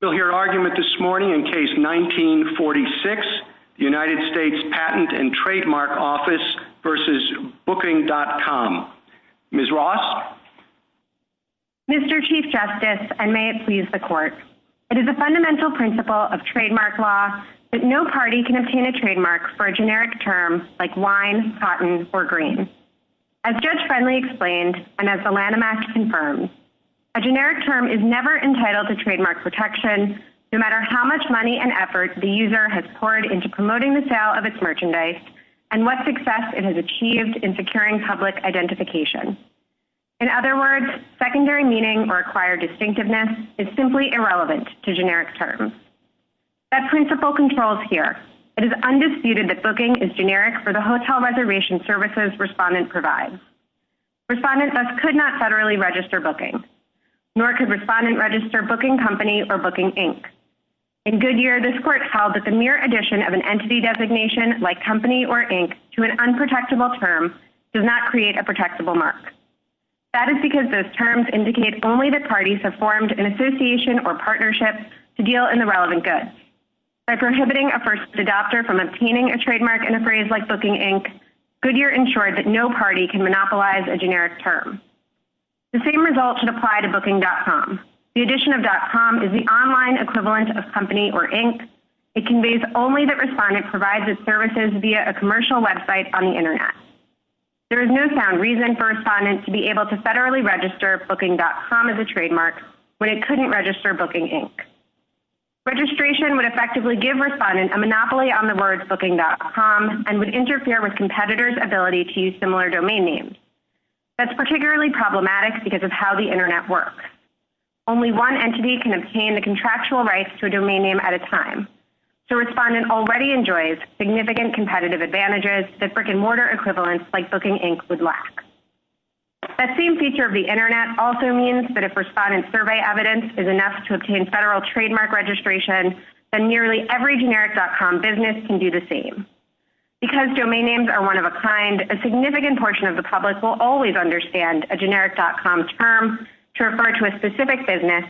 We'll hear an argument this morning in Case 1946, United States Patent and Trademark Office v. Booking.com. Ms. Ross? Mr. Chief Justice, and may it please the Court, it is a fundamental principle of trademark law that no party can obtain a trademark for a generic term like wine, cotton, or green. As Judge Friendly explained, and as the Lanham Act confirms, a generic term is never entitled to trademark protection no matter how much money and effort the user has poured into promoting the sale of its merchandise and what success it has achieved in securing public identification. In other words, secondary meaning or acquired distinctiveness is simply irrelevant to generic terms. That principle controls here. It is undisputed that booking is generic for the hotel reservation services respondent provides. Respondent thus could not federally register booking, nor could respondent register booking company or booking ink. In Goodyear, this Court held that the mere addition of an entity designation like company or ink to an unprotectable term does not create a protectable mark. That is because those terms indicate only that parties have formed an association or partnership to deal in the relevant goods. By prohibiting a first adopter from obtaining a trademark in a phrase like booking ink, Goodyear ensured that no party can monopolize a generic term. The same result should apply to booking.com. The addition of .com is the online equivalent of company or ink. It conveys only that respondent provides its services via a commercial website on the Internet. There is no sound reason for respondent to be able to federally register booking.com as a trademark when it couldn't register booking ink. Registration would effectively give respondent a monopoly on the word booking.com and would interfere with competitor's ability to use similar domain names. That's particularly problematic because of how the Internet works. Only one entity can obtain the contractual rights to a domain name at a time. The respondent already enjoys significant competitive advantages that brick and mortar equivalents like booking ink would lack. That same feature of the Internet also means that if respondent's survey evidence is enough to obtain federal trademark registration, then nearly every generic.com business can do the same. Because domain names are one of a kind, a significant portion of the public will always understand a generic.com term to refer to a specific business,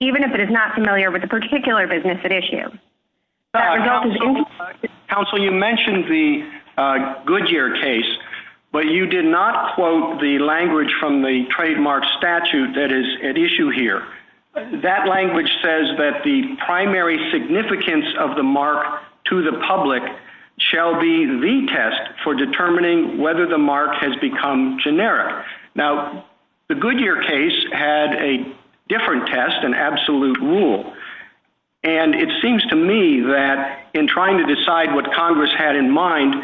even if it is not familiar with the particular business at issue. Counsel, you mentioned the Goodyear case, but you did not quote the language from the trademark statute that is at issue here. That language says that the primary significance of the mark to the public shall be the test for determining whether the mark has become generic. The Goodyear case had a different test, an absolute rule. It seems to me that in trying to decide what Congress had in mind,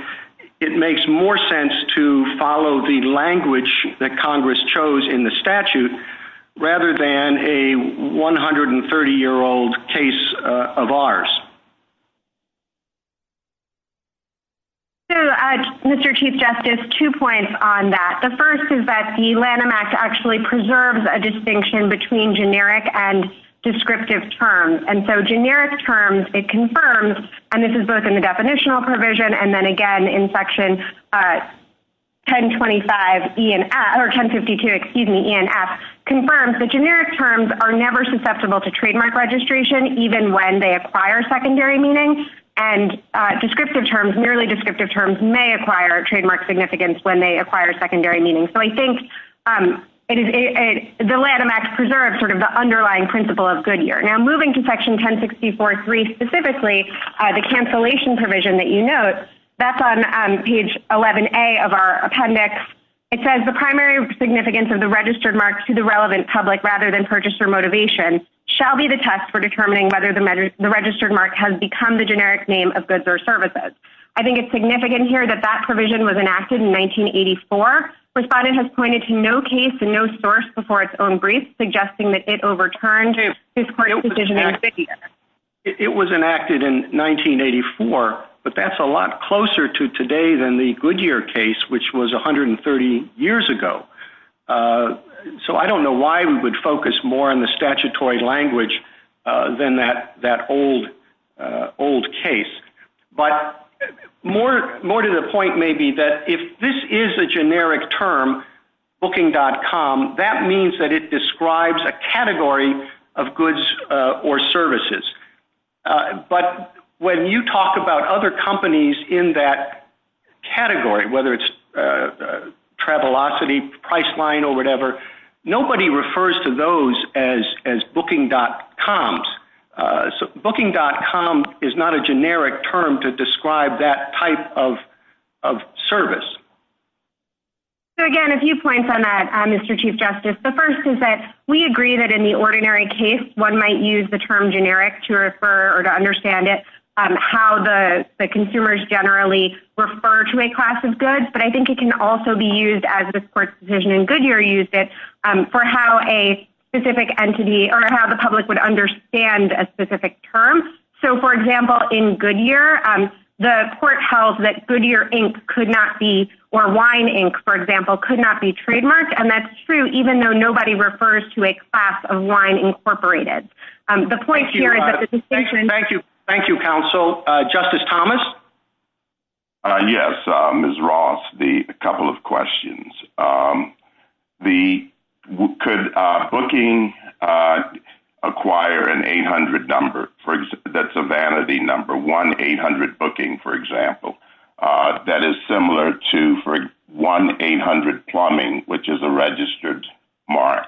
it makes more sense to follow the language that Congress chose in the statute rather than a 130-year-old case of ours. Mr. Chief Justice, two points on that. The first is that the Lanham Act actually preserves a distinction between generic and descriptive terms. Generic terms, it confirms, and this is both in the definitional provision and then again in section 1052, E&F, confirms that generic terms are never susceptible to trademark registration, even when they acquire secondary meaning. Descriptive terms, merely descriptive terms, may acquire trademark significance when they acquire secondary meaning. I think the Lanham Act preserves the underlying principle of Goodyear. Now moving to section 1064.3 specifically, the cancellation provision that you note, that's on page 11A of our appendix. It says the primary significance of the registered mark to the relevant public rather than purchased for motivation shall be the test for determining whether the registered mark has become the generic name of goods or services. I think it's significant here that that provision was enacted in 1984. Respondent has pointed to no case and no source before its own brief, suggesting that it overturned his court decision in 50 years. It was enacted in 1984, but that's a lot closer to today than the Goodyear case, which was 130 years ago. So I don't know why we would focus more on the statutory language than that old case. But more to the point may be that if this is a generic term, booking.com, that means that it describes a category of goods or services. But when you talk about other companies in that category, whether it's Travelocity, Priceline, or whatever, nobody refers to those as booking.coms. Booking.com is not a generic term to describe that type of service. So again, a few points on that, Mr. Chief Justice. The first is that we agree that in the ordinary case, one might use the term generic to refer or to understand it, how the consumers generally refer to a class of goods. But I think it can also be used, as this court's decision in Goodyear used it, for how a specific entity or how the public would understand a specific term. So, for example, in Goodyear, the court held that Goodyear Inc. could not be, or Wine Inc., for example, could not be trademarked. And that's true, even though nobody refers to a class of wine incorporated. Thank you. Thank you, counsel. Justice Thomas? Yes, Ms. Ross, a couple of questions. Could booking acquire an 800 number? That's a vanity number, 1-800 booking, for example. That is similar to 1-800 plumbing, which is a registered mark.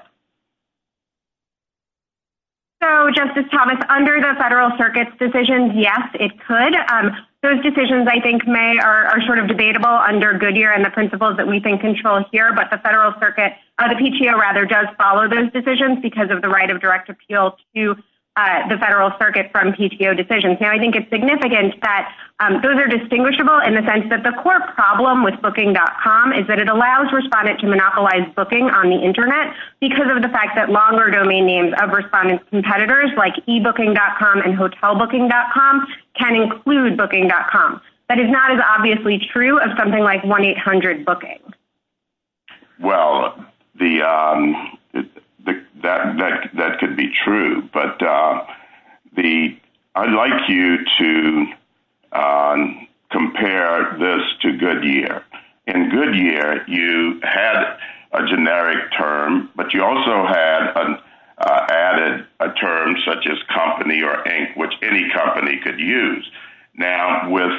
So, Justice Thomas, under the Federal Circuit's decision, yes, it could. Those decisions, I think, may or are sort of debatable under Goodyear and the principles that we think control here. But the Federal Circuit, or the PTO, rather, does follow those decisions because of the right of direct appeal to the Federal Circuit from PTO decisions. Now, I think it's significant that those are distinguishable in the sense that the core problem with Booking.com is that it allows respondents to monopolize booking on the Internet because of the fact that longer domain names of respondents' competitors, like ebooking.com and hotelbooking.com, can include booking.com. That is not as obviously true as something like 1-800 booking. Well, that could be true. But I'd like you to compare this to Goodyear. In Goodyear, you had a generic term, but you also had added a term such as company or ink, which any company could use. Now, with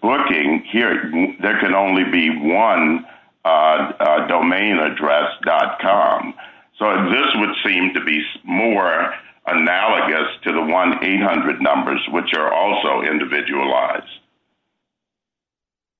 booking, here, there can only be one, domainaddress.com. So this would seem to be more analogous to the 1-800 numbers, which are also individualized.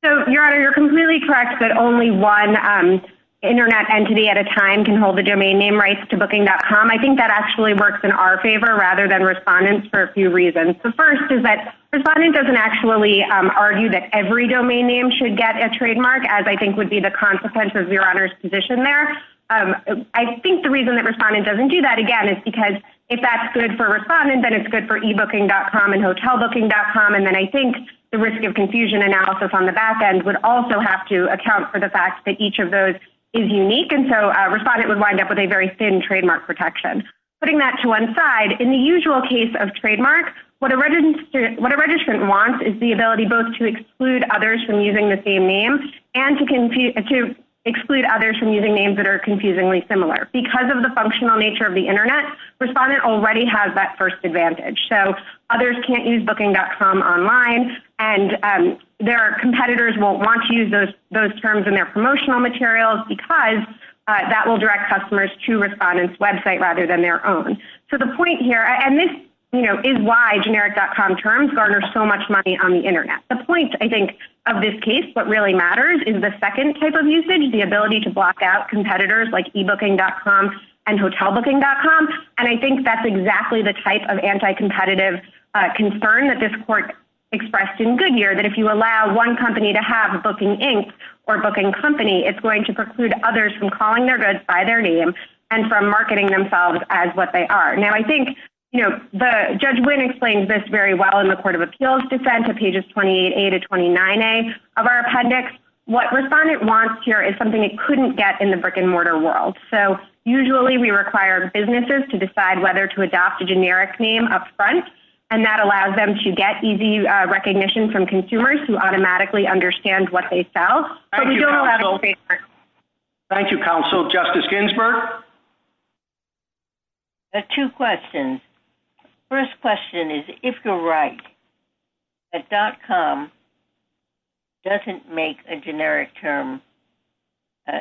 So, Your Honor, you're completely correct that only one Internet entity at a time can hold the domain name rights to booking.com. I think that actually works in our favor rather than respondents' for a few reasons. The first is that respondents doesn't actually argue that every domain name should get a trademark, as I think would be the consequence of Your Honor's position there. I think the reason that respondents doesn't do that, again, is because if that's good for respondents, then it's good for ebooking.com and hotelbooking.com. And then I think the risk of confusion analysis on the back end would also have to account for the fact that each of those is unique. And so a respondent would wind up with a very thin trademark protection. Putting that to one side, in the usual case of trademark, what a registrant wants is the ability both to exclude others from using the same name and to exclude others from using names that are confusingly similar. Because of the functional nature of the Internet, respondents already have that first advantage. So others can't use booking.com online, and their competitors won't want to use those terms in their promotional materials because that will direct customers to respondents' website rather than their own. So the point here, and this is why generic.com terms garner so much money on the Internet. The point, I think, of this case, what really matters is the second type of usage, the ability to block out competitors like ebooking.com and hotelbooking.com. And I think that's exactly the type of anti-competitive concern that this court expressed in Goodyear, that if you allow one company to have a booking inc. or booking company, it's going to preclude others from calling their goods by their name and from marketing themselves as what they are. Now, I think, you know, Judge Wynn explains this very well in the Court of Appeals dissent on pages 28a to 29a of our appendix. What respondent wants here is something it couldn't get in the brick and mortar world. So usually we require businesses to decide whether to adopt a generic name up front, and that allows them to get easy recognition from consumers who automatically understand what they sell. Thank you, counsel. Thank you, counsel. Justice Ginsburg? Two questions. First question is, if you're right, a .com doesn't make a generic term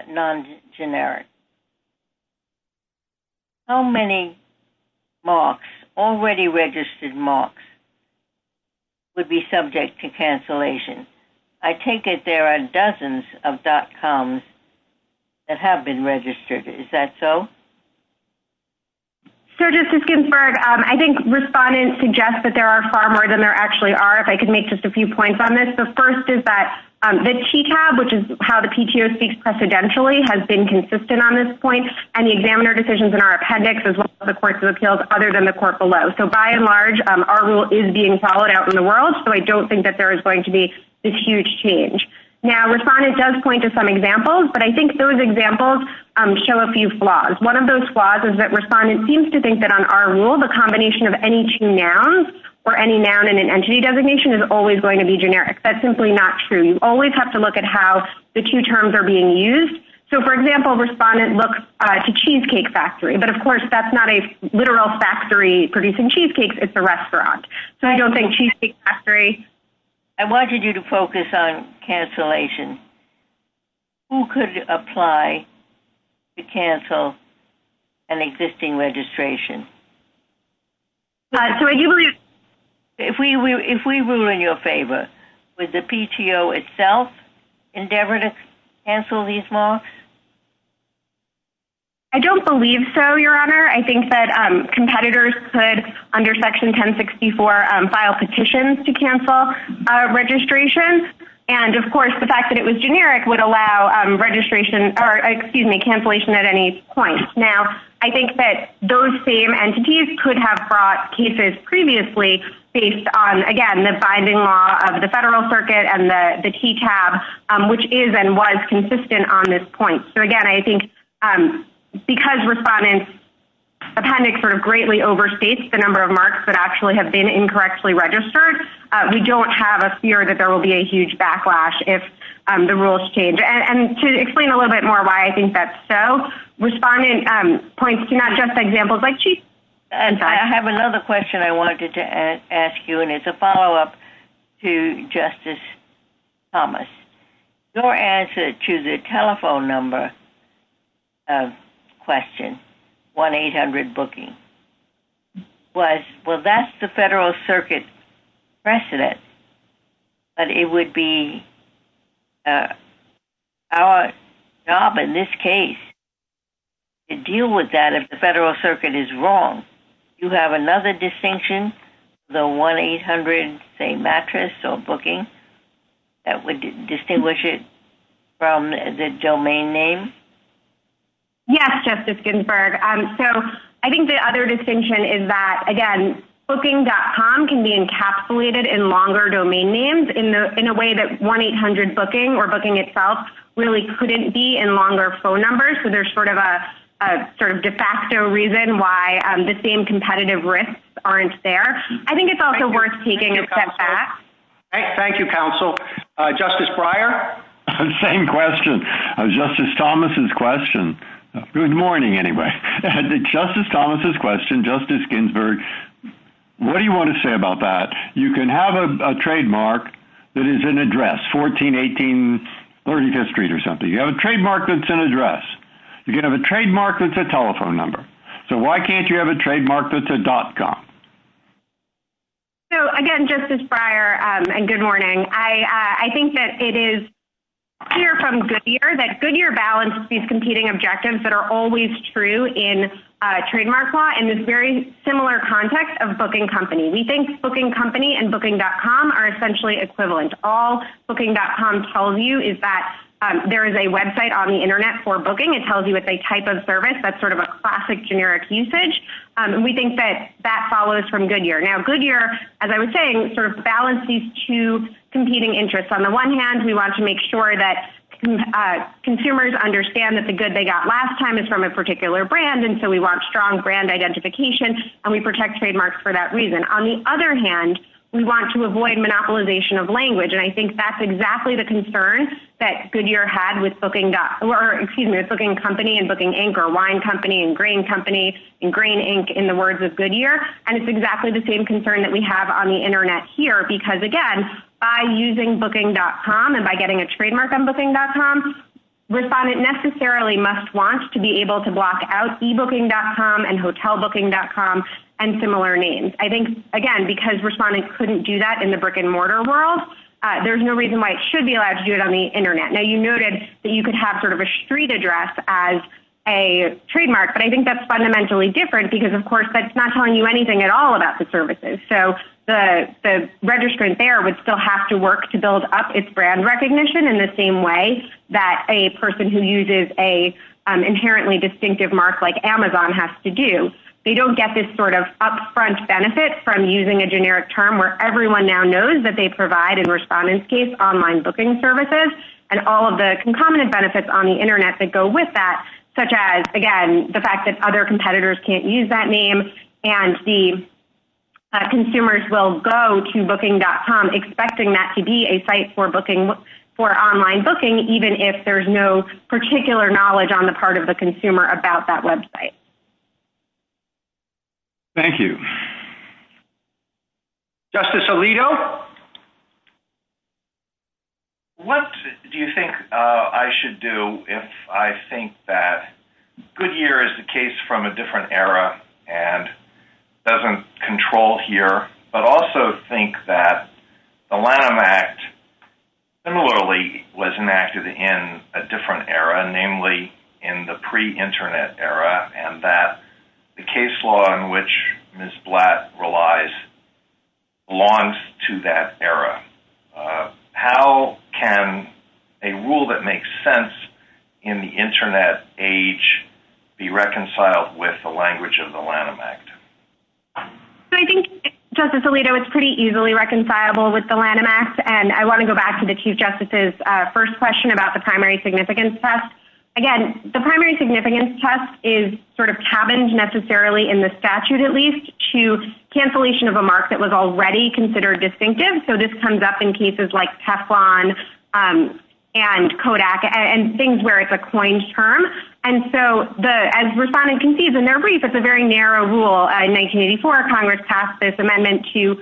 non-generic. How many marks, already registered marks, would be subject to cancellation? I take it there are dozens of .coms that have been registered. Is that so? So, Justice Ginsburg, I think respondents suggest that there are far more than there actually are. If I could make just a few points on this. The first is that the TCAB, which is how the PTO speaks precedentially, has been consistent on this point, and the examiner decisions in our appendix, as well as the Court of Appeals, other than the court below. So, by and large, our rule is being followed out in the world, so I don't think that there is going to be this huge change. Now, respondent does point to some examples, but I think those examples show a few flaws. One of those flaws is that respondent seems to think that, on our rule, the combination of any two nouns, or any noun in an entity designation, is always going to be generic. That's simply not true. You always have to look at how the two terms are being used. So, for example, respondent looks to Cheesecake Factory, but, of course, that's not a literal factory producing cheesecakes. It's a restaurant. So, I don't think Cheesecake Factory. I wanted you to focus on cancellation. Who could apply to cancel an existing registration? If we rule in your favor, would the PTO itself endeavor to cancel these laws? I don't believe so, Your Honor. I think that competitors could, under Section 1064, file petitions to cancel a registration. And, of course, the fact that it was generic would allow cancellation at any point. Now, I think that those same entities could have brought cases previously based on, again, the abiding law of the Federal Circuit and the TTAB, which is and was consistent on this point. So, again, I think because respondents' appendix greatly overstates the number of marks that actually have been incorrectly registered, we don't have a fear that there will be a huge backlash if the rules change. And to explain a little bit more why I think that's so, respondent points to not just examples like Cheesecake Factory. I have another question I wanted to ask you, and it's a follow-up to Justice Thomas. Your answer to the telephone number question, 1-800 booking, was, well, that's the Federal Circuit precedent, but it would be our job in this case to deal with that if the Federal Circuit is wrong. Do you have another distinction, the 1-800, say, mattress or booking, that would distinguish it from the domain name? Yes, Justice Ginsburg. So, I think the other distinction is that, again, booking.com can be encapsulated in longer domain names in a way that 1-800 booking or booking itself really couldn't be in longer phone numbers. So, there's sort of a de facto reason why the same competitive risks aren't there. I think it's also worth taking a step back. Thank you, counsel. Justice Breyer? Same question. Justice Thomas's question. Good morning, anyway. Justice Thomas's question, Justice Ginsburg, what do you want to say about that? You can have a trademark that is an address, 1418 35th Street or something. You can have a trademark that's an address. You can have a trademark that's a telephone number. So, why can't you have a trademark that's a .com? So, again, Justice Breyer, and good morning, I think that it is clear from Goodyear that Goodyear balances these competing objectives that are always true in trademark law in this very similar context of booking company. We think booking company and booking.com are essentially equivalent. All booking.com tells you is that there is a website on the Internet for booking. It tells you it's a type of service that's sort of a classic generic usage. We think that that follows from Goodyear. Now, Goodyear, as I was saying, sort of balances these two competing interests. On the one hand, we want to make sure that consumers understand that the good they got last time is from a particular brand, and so we want strong brand identification, and we protect trademarks for that reason. On the other hand, we want to avoid monopolization of language, and I think that's exactly the concern that Goodyear had with booking. Or, excuse me, with booking company and booking ink or wine company and grain company and grain ink in the words of Goodyear. And it's exactly the same concern that we have on the Internet here because, again, by using booking.com and by getting a trademark on booking.com, respondent necessarily must want to be able to block out ebooking.com and hotelbooking.com and similar names. I think, again, because respondents couldn't do that in the brick-and-mortar world, there's no reason why it should be allowed to do it on the Internet. Now, you noted that you could have sort of a street address as a trademark, but I think that's fundamentally different because, of course, that's not telling you anything at all about the services. So the registrant there would still have to work to build up its brand recognition in the same way that a person who uses an inherently distinctive mark like Amazon has to do. They don't get this sort of upfront benefit from using a generic term where everyone now knows that they provide, in respondent's case, online booking services. And all of the concomitant benefits on the Internet that go with that, such as, again, the fact that other competitors can't use that name and the consumers will go to booking.com expecting that to be a site for online booking, even if there's no particular knowledge on the part of the consumer about that website. Thank you. Justice Alito? What do you think I should do if I think that Goodyear is the case from a different era and doesn't control here, but also think that the Lanham Act similarly was enacted in a different era, namely in the pre-Internet era, and that the case law in which Ms. Blatt relies belongs to that era? How can a rule that makes sense in the Internet age be reconciled with the language of the Lanham Act? So I think, Justice Alito, it's pretty easily reconcilable with the Lanham Act. And I want to go back to the Chief Justice's first question about the primary significance test. Again, the primary significance test is sort of tabbed necessarily in the statute, at least, to cancellation of a mark that was already considered distinctive. So this comes up in cases like Teflon and Kodak and things where it's a coined term. And so as respondents can see, it's a very narrow rule. In 1984, Congress passed this amendment to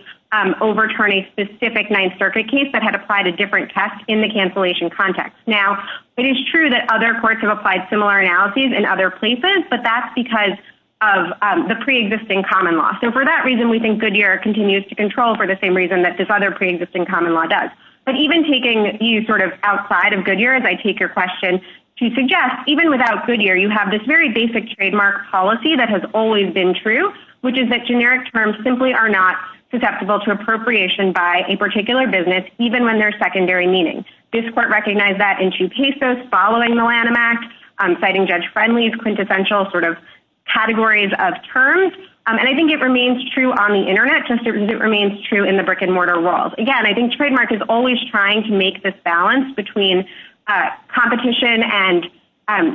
overturn a specific Ninth Circuit case that had applied a different test in the cancellation context. Now, it is true that other courts have applied similar analyses in other places, but that's because of the pre-existing common law. So for that reason, we think Goodyear continues to control for the same reason that this other pre-existing common law does. But even taking you sort of outside of Goodyear, as I take your question, to suggest, even without Goodyear, you have this very basic trademark policy that has always been true, which is that generic terms simply are not susceptible to appropriation by a particular business, even when there's secondary meaning. This court recognized that in two cases following the Lanham Act, citing Judge Friendly's quintessential sort of categories of terms. And I think it remains true on the Internet, just as it remains true in the brick-and-mortar world. Again, I think trademark is always trying to make this balance between competition and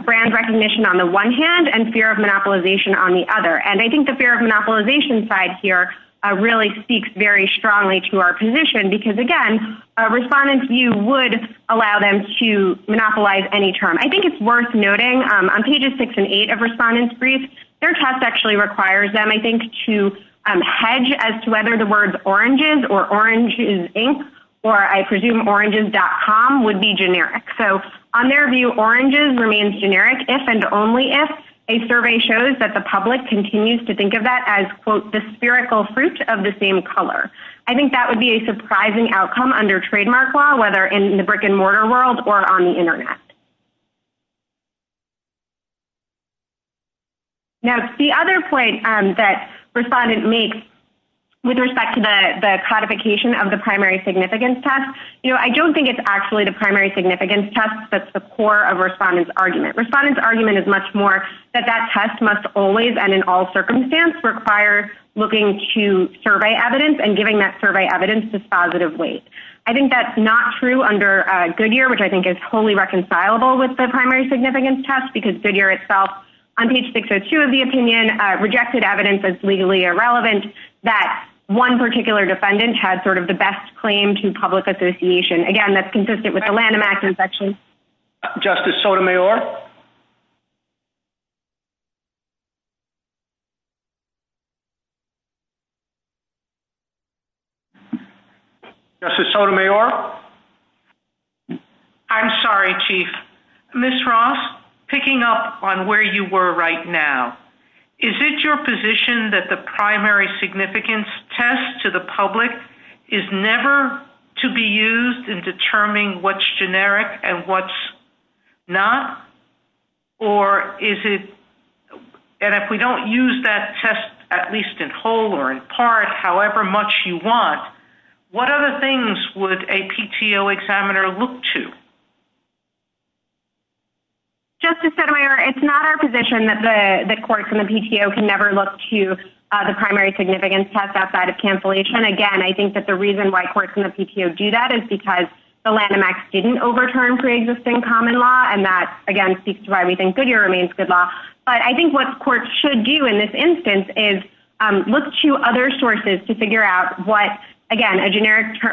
brand recognition on the one hand and fear of monopolization on the other. And I think the fear of monopolization side here really speaks very strongly to our position, because again, a respondent's view would allow them to monopolize any term. I think it's worth noting on pages 6 and 8 of respondent's brief, their test actually requires them, I think, to hedge as to whether the words oranges or oranges, Inc., or I presume oranges.com would be generic. So on their view, oranges remains generic if and only if a survey shows that the public continues to think of that as, quote, the spherical fruit of the same color. I think that would be a surprising outcome under trademark law, whether in the brick-and-mortar world or on the Internet. Now, the other point that respondent makes with respect to the codification of the primary significance test, you know, I don't think it's actually the primary significance test that's the core of respondent's argument. Respondent's argument is much more that that test must always and in all circumstances require looking to survey evidence and giving that survey evidence this positive weight. I think that's not true under Goodyear, which I think is wholly reconcilable with the primary significance test, because Goodyear itself on page 602 of the opinion rejected evidence as legally irrelevant that one particular defendant had sort of the best claim to public association. Again, that's consistent with the Lanham Act inspection. Justice Sotomayor? Justice Sotomayor? I'm sorry, Chief. Ms. Ross, picking up on where you were right now, is it your position that the primary significance test to the public is never to be used in determining what's generic and what's not? And if we don't use that test at least in whole or in part, however much you want, what other things would a PTO examiner look to? Justice Sotomayor, it's not our position that the courts and the PTO can never look to the primary significance test outside of cancellation. Again, I think that the reason why courts and the PTO do that is because the Lanham Act didn't overturn preexisting common law, and that, again, speaks to why we think Goodyear remains good law. But I think what courts should do in this instance is look to other sources to figure out what, again,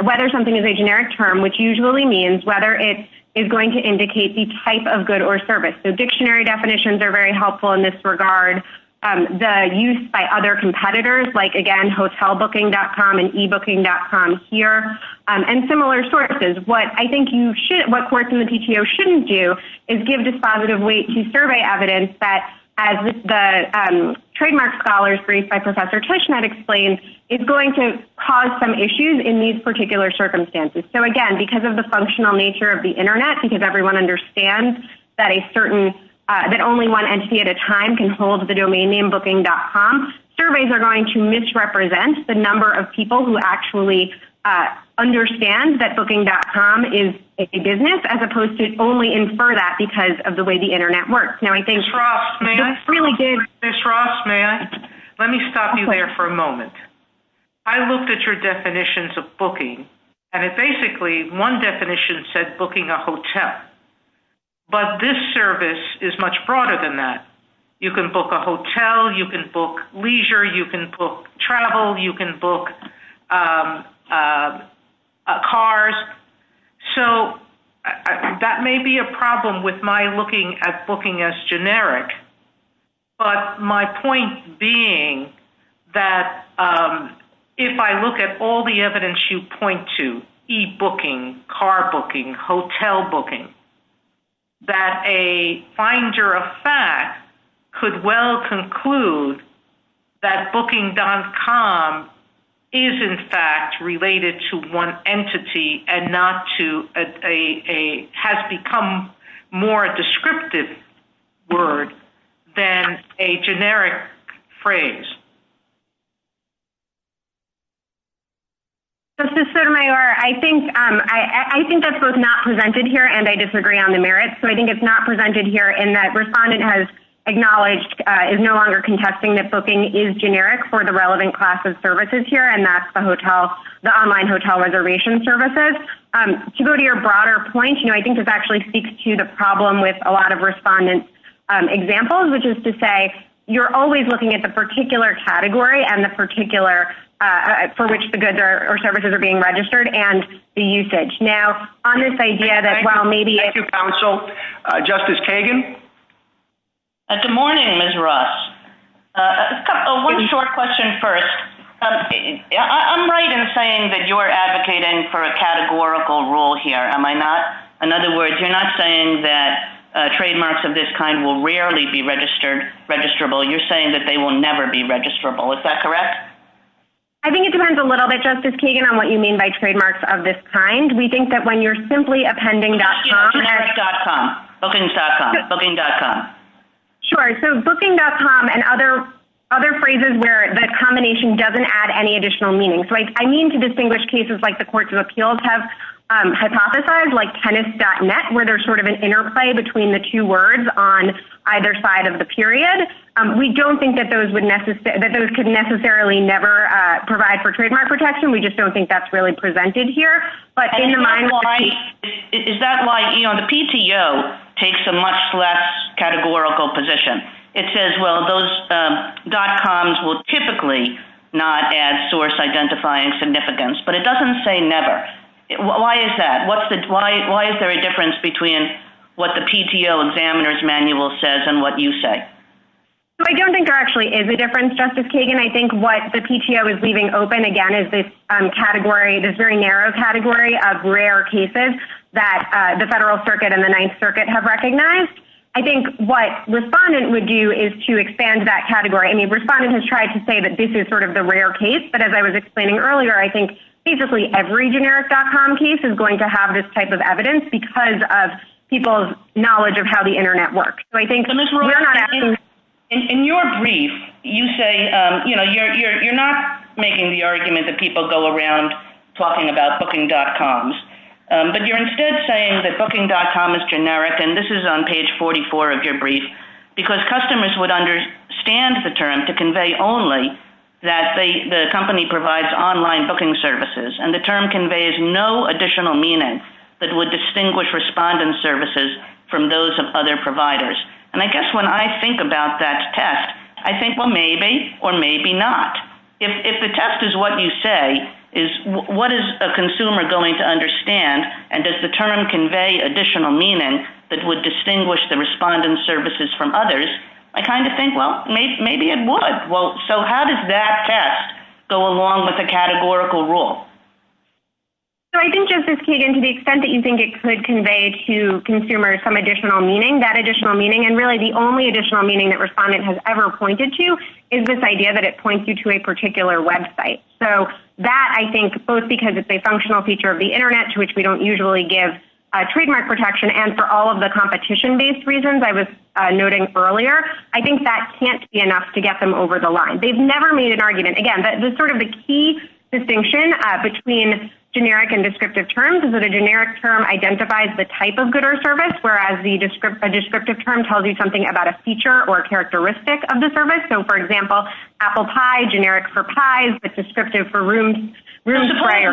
whether something is a generic term, which usually means whether it is going to indicate the type of good or service. So dictionary definitions are very helpful in this regard. The use by other competitors, like, again, hotelbooking.com and ebooking.com here, and similar sources. What I think what courts and the PTO shouldn't do is give dispositive weight to survey evidence that, as the trademark scholars briefed by Professor Tushnet explained, is going to cause some issues in these particular circumstances. So, again, because of the functional nature of the Internet, because everyone understands that only one entity at a time can hold the domain name ebooking.com, surveys are going to misrepresent the number of people who actually understand that booking.com is a business, as opposed to only infer that because of the way the Internet works. Ms. Rossman, let me stop you there for a moment. I looked at your definitions of booking, and basically one definition said booking a hotel. But this service is much broader than that. You can book a hotel. You can book leisure. You can book travel. You can book cars. So that may be a problem with my looking at booking as generic. But my point being that if I look at all the evidence you point to, ebooking, car booking, hotel booking, that a finder of fact could well conclude that booking.com is, in fact, related to one entity and not to a specific entity, has become more a descriptive word than a generic phrase. Ms. Sotomayor, I think that's both not presented here, and I disagree on the merits. So I think it's not presented here in that respondent has acknowledged, is no longer contesting that booking is generic for the relevant class of services here, and that's the online hotel reservation services. To go to your broader point, you know, I think this actually speaks to the problem with a lot of respondent examples, which is to say you're always looking at the particular category and the particular for which the goods or services are being registered and the usage. Now, on this idea that, well, maybe it's... Thank you, counsel. Justice Kagan? Good morning, Ms. Ross. One short question first. I'm right in saying that you're advocating for a categorical rule here, am I not? In other words, you're not saying that trademarks of this kind will rarely be registrable. You're saying that they will never be registrable. Is that correct? I think it depends a little bit, Justice Kagan, on what you mean by trademarks of this kind. We think that when you're simply appending .com... Bookings.com, booking.com. Sure. So, booking.com and other phrases where that combination doesn't add any additional meaning. So, I mean to distinguish cases like the courts of appeals have hypothesized, like tennis.net, where there's sort of an interplay between the two words on either side of the period. We don't think that those could necessarily never provide for trademark protection. We just don't think that's really presented here. Is that why the PTO takes a much less categorical position? It says, well, those .coms will typically not add source identifying significance, but it doesn't say never. Why is that? Why is there a difference between what the PTO examiner's manual says and what you say? I don't think there actually is a difference, Justice Kagan. I think what the PTO is leaving open, again, is this category, this very narrow category of rare cases that the Federal Circuit and the Ninth Circuit have recognized. I think what Respondent would do is to expand that category. I mean, Respondent has tried to say that this is sort of the rare case, but as I was explaining earlier, I think basically every generic .com case is going to have this type of evidence because of people's knowledge of how the Internet works. In your brief, you say, you know, you're not making the argument that people go around talking about booking.coms, but you're instead saying that booking.com is generic, and this is on page 44 of your brief, because customers would understand the term to convey only that the company provides online booking services, and the term conveys no additional meaning that would distinguish Respondent services from those of other providers. And I guess when I think about that test, I think, well, maybe or maybe not. If the test is what you say, what is a consumer going to understand, and does the term convey additional meaning that would distinguish the Respondent services from others? I kind of think, well, maybe it would. Well, so how does that test go along with the categorical rule? So I think, Justice Kagan, to the extent that you think it could convey to consumers some additional meaning, that additional meaning, and really the only additional meaning that Respondent has ever pointed to is this idea that it points you to a particular website. So that, I think, both because it's a functional feature of the Internet to which we don't usually give trademark protection, and for all of the competition-based reasons I was noting earlier, I think that can't be enough to get them over the line. They've never made an argument. Again, sort of the key distinction between generic and descriptive terms is that a generic term identifies the type of good or service, whereas a descriptive term tells you something about a feature or a characteristic of the service. So, for example, apple pie, generic for pies, but descriptive for rooms. Sorry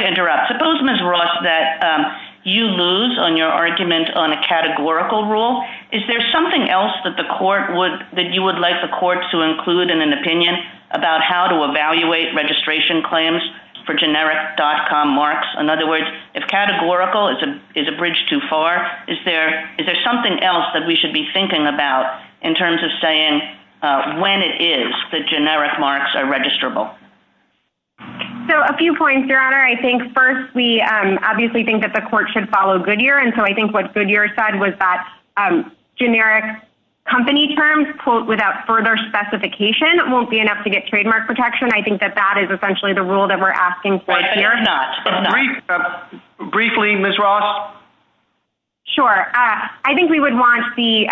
to interrupt. Suppose, Ms. Ross, that you lose on your argument on a categorical rule. Is there something else that you would like the court to include in an opinion about how to evaluate registration claims for generic dot-com marks? In other words, if categorical is a bridge too far, is there something else that we should be thinking about in terms of saying when it is that generic marks are registrable? So, a few points, Your Honor. I think, first, we obviously think that the court should follow Goodyear, and so I think what Goodyear said was that generic company terms, quote, without further specification, won't be enough to get trademark protection. I think that that is essentially the rule that we're asking for here. Briefly, Ms. Ross? Sure. I think we would want the,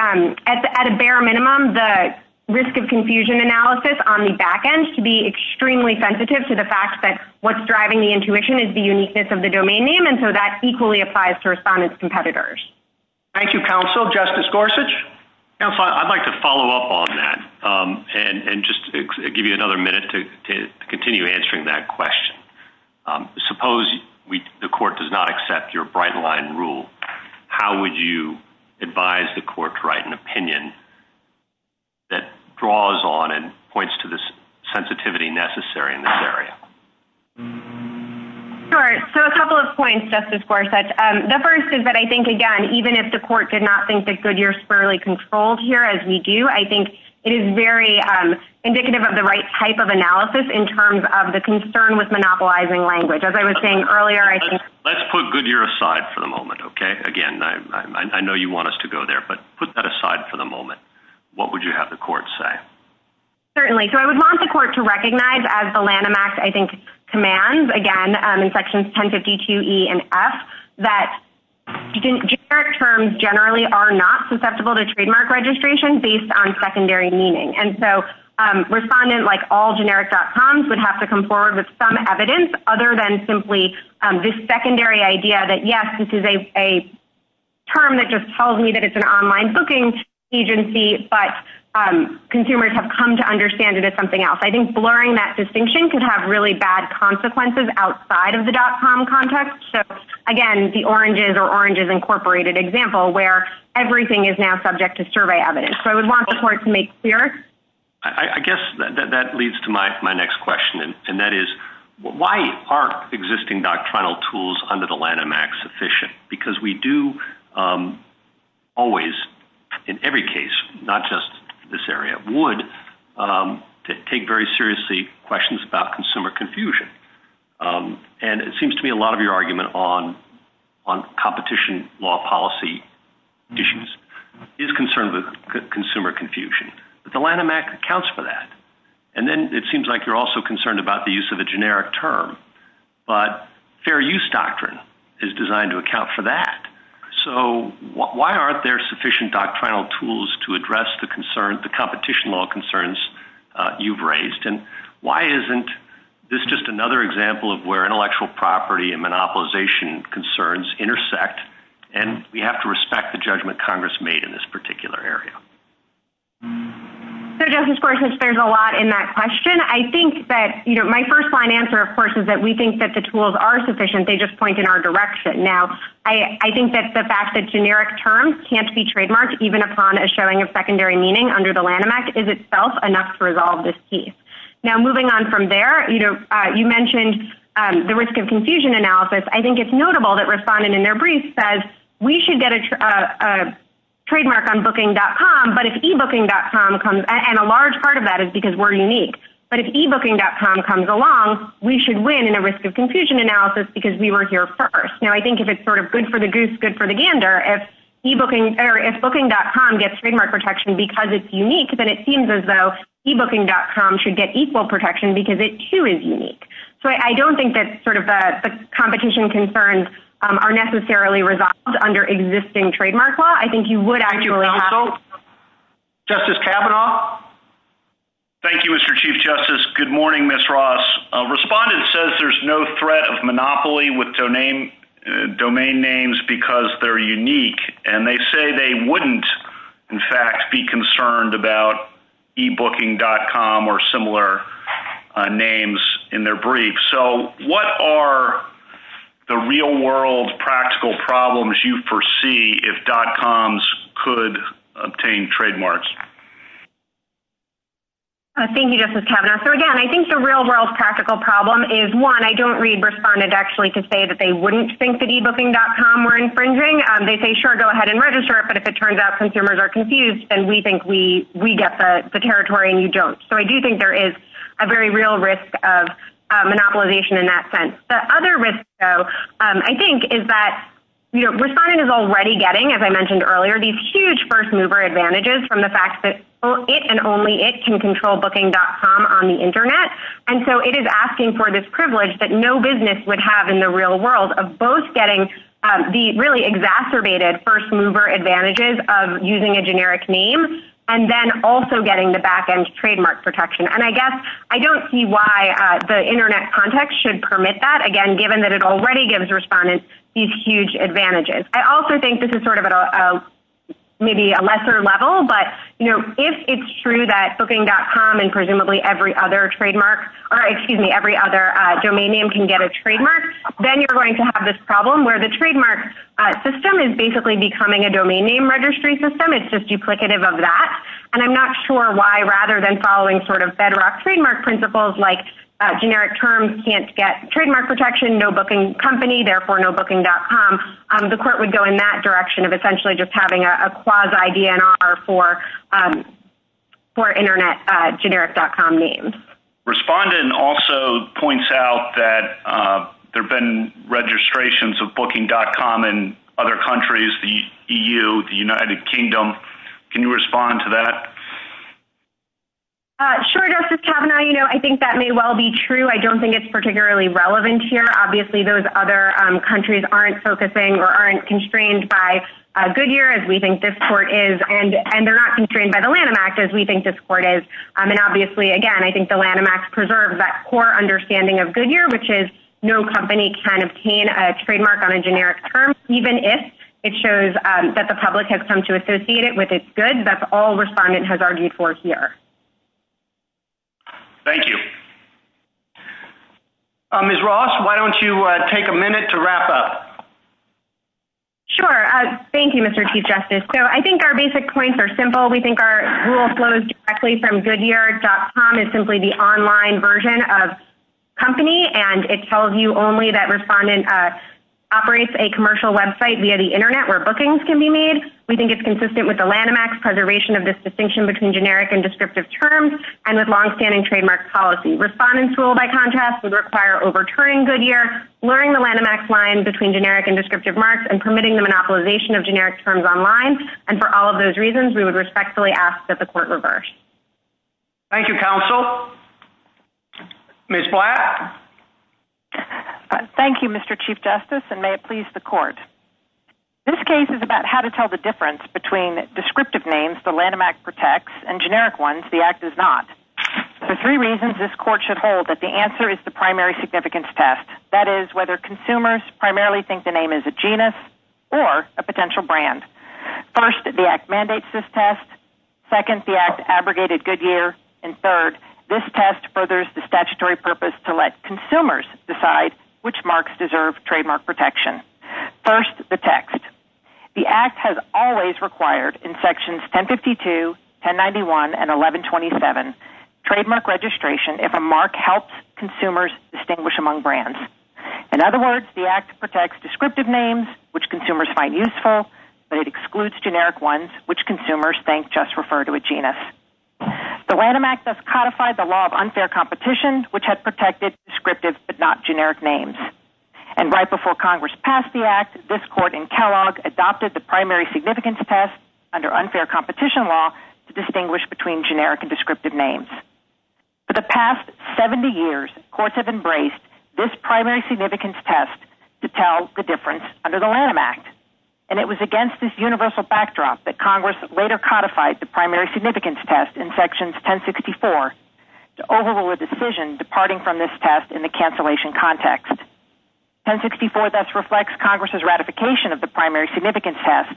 at a bare minimum, the risk of confusion analysis on the back end to be extremely sensitive to the fact that what's driving the intuition is the uniqueness of the domain name, and so that equally applies to respondents' competitors. Thank you, counsel. Justice Gorsuch? Counsel, I'd like to follow up on that and just give you another minute to continue answering that question. Suppose the court does not accept your bright-line rule. How would you advise the court to write an opinion that draws on and points to the sensitivity necessary in this area? Sure. So, a couple of points, Justice Gorsuch. The first is that I think, again, even if the court did not think that Goodyear is thoroughly controlled here, as we do, I think it is very indicative of the right type of analysis in terms of the concern with monopolizing language. As I was saying earlier, I think… Let's put Goodyear aside for the moment, okay? Again, I know you want us to go there, but put that aside for the moment. What would you have the court say? Certainly. So, I would want the court to recognize, as the Lanham Act, I think, commands, again, in Sections 1052E and F, that generic terms generally are not susceptible to trademark registration based on secondary meaning. And so, respondents, like all generic.coms, would have to come forward with some evidence other than simply this secondary idea that, yes, this is a term that just tells me that it's an online booking agency, but consumers have come to understand it as something else. I think blurring that distinction can have really bad consequences outside of the .com context. So, again, the Oranges or Oranges Incorporated example, where everything is now subject to survey evidence. So, I would want the court to make clear. I guess that leads to my next question, and that is, why are existing doctrinal tools under the Lanham Act sufficient? Because we do always, in every case, not just this area, would take very seriously questions about consumer confusion. And it seems to me a lot of your argument on competition law policy issues is concerned with consumer confusion. But the Lanham Act accounts for that. And then it seems like you're also concerned about the use of a generic term. But fair use doctrine is designed to account for that. So, why aren't there sufficient doctrinal tools to address the competition law concerns you've raised? And why isn't this just another example of where intellectual property and monopolization concerns intersect? And we have to respect the judgment Congress made in this particular area. So, Justice Gorsuch, there's a lot in that question. I think that, you know, my first line answer, of course, is that we think that the tools are sufficient. They just point in our direction. Now, I think that the fact that generic terms can't be trademarked, even upon a showing of secondary meaning under the Lanham Act, is itself enough to resolve this case. Now, moving on from there, you mentioned the risk of confusion analysis. I think it's notable that Respondent, in their brief, says we should get a trademark on Booking.com, but if eBooking.com comes, and a large part of that is because we're unique, but if eBooking.com comes along, we should win in a risk of confusion analysis because we were here first. Now, I think if it's sort of good for the goose, good for the gander, if Booking.com gets trademark protection because it's unique, then it seems as though eBooking.com should get equal protection because it, too, is unique. So I don't think that sort of the competition concerns are necessarily resolved under existing trademark law. I think you would actually have— Justice Kavanaugh? Thank you, Mr. Chief Justice. Good morning, Ms. Ross. Respondent says there's no threat of monopoly with domain names because they're unique, and they say they wouldn't, in fact, be concerned about eBooking.com or similar names in their brief. So what are the real-world practical problems you foresee if .coms could obtain trademarks? Thank you, Justice Kavanaugh. So, again, I think the real-world practical problem is, one, I don't read Respondent actually to say that they wouldn't think that eBooking.com were infringing. They say, sure, go ahead and register it, but if it turns out consumers are confused and we think we get the territory and you don't. So I do think there is a very real risk of monopolization in that sense. The other risk, though, I think is that Respondent is already getting, as I mentioned earlier, these huge first-mover advantages from the fact that it and only it can control Booking.com on the Internet. And so it is asking for this privilege that no business would have in the real world of both getting the really exacerbated first-mover advantages of using a generic name and then also getting the back-end trademark protection. And I guess I don't see why the Internet context should permit that, again, given that it already gives Respondent these huge advantages. I also think this is sort of maybe a lesser level, but if it's true that Booking.com and presumably every other domain name can get a trademark, then you're going to have this problem where the trademark system is basically becoming a domain name registry system. It's just duplicative of that. And I'm not sure why, rather than following sort of bedrock trademark principles like generic terms can't get trademark protection, no Booking company, therefore no Booking.com, the court would go in that direction of essentially just having a quasi-DNR for Internet generic.com names. Respondent also points out that there have been registrations of Booking.com in other countries, the EU, the United Kingdom. Can you respond to that? Sure, Justice Kavanaugh. I think that may well be true. I don't think it's particularly relevant here. Obviously, those other countries aren't focusing or aren't constrained by Goodyear, as we think this court is, and they're not constrained by the Lanham Act, as we think this court is. And obviously, again, I think the Lanham Act preserves that core understanding of Goodyear, which is no company can obtain a trademark on a generic term, even if it shows that the public has come to associate it with its goods. That's all Respondent has argued for here. Thank you. Ms. Ross, why don't you take a minute to wrap up? Sure. Thank you, Mr. Chief Justice. So I think our basic points are simple. We think our rule flows directly from Goodyear.com is simply the online version of company, and it tells you only that Respondent operates a commercial website via the Internet where bookings can be made. We think it's consistent with the Lanham Act's preservation of this distinction between generic and descriptive terms and with longstanding trademark policy. The Respondent's rule, by contrast, would require overturning Goodyear, blurring the Lanham Act's line between generic and descriptive marks, and permitting the monopolization of generic terms online. And for all of those reasons, we would respectfully ask that the court reverse. Thank you, counsel. Ms. Black? Thank you, Mr. Chief Justice, and may it please the court. This case is about how to tell the difference between descriptive names the Lanham Act protects and generic ones the Act does not. There are three reasons this court should hold that the answer is the primary significance test, that is, whether consumers primarily think the name is a genus or a potential brand. First, the Act mandates this test. Second, the Act abrogated Goodyear. And third, this test furthers the statutory purpose to let consumers decide which marks deserve trademark protection. First, the text. The Act has always required, in sections 1052, 1091, and 1127, trademark registration if a mark helps consumers distinguish among brands. In other words, the Act protects descriptive names, which consumers find useful, but it excludes generic ones, which consumers think just refer to a genus. The Lanham Act thus codified the law of unfair competition, which had protected descriptive but not generic names. And right before Congress passed the Act, this court in Kellogg adopted the primary significance test under unfair competition law to distinguish between generic and descriptive names. For the past 70 years, courts have embraced this primary significance test to tell the difference under the Lanham Act. And it was against this universal backdrop that Congress later codified the primary significance test in sections 1064 to overrule a decision departing from this test in the cancellation context. 1064 thus reflects Congress's ratification of the primary significance test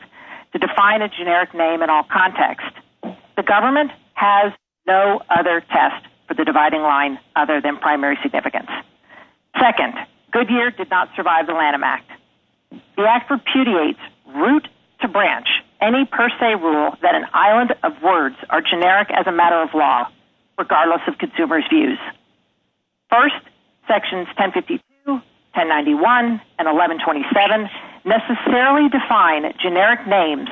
to define a generic name in all context. The government has no other test for the dividing line other than primary significance. Second, Goodyear did not survive the Lanham Act. The Act repudiates, root to branch, any per se rule that an island of words are generic as a matter of law. Regardless of consumers' views. First, sections 1052, 1091, and 1127 necessarily define generic names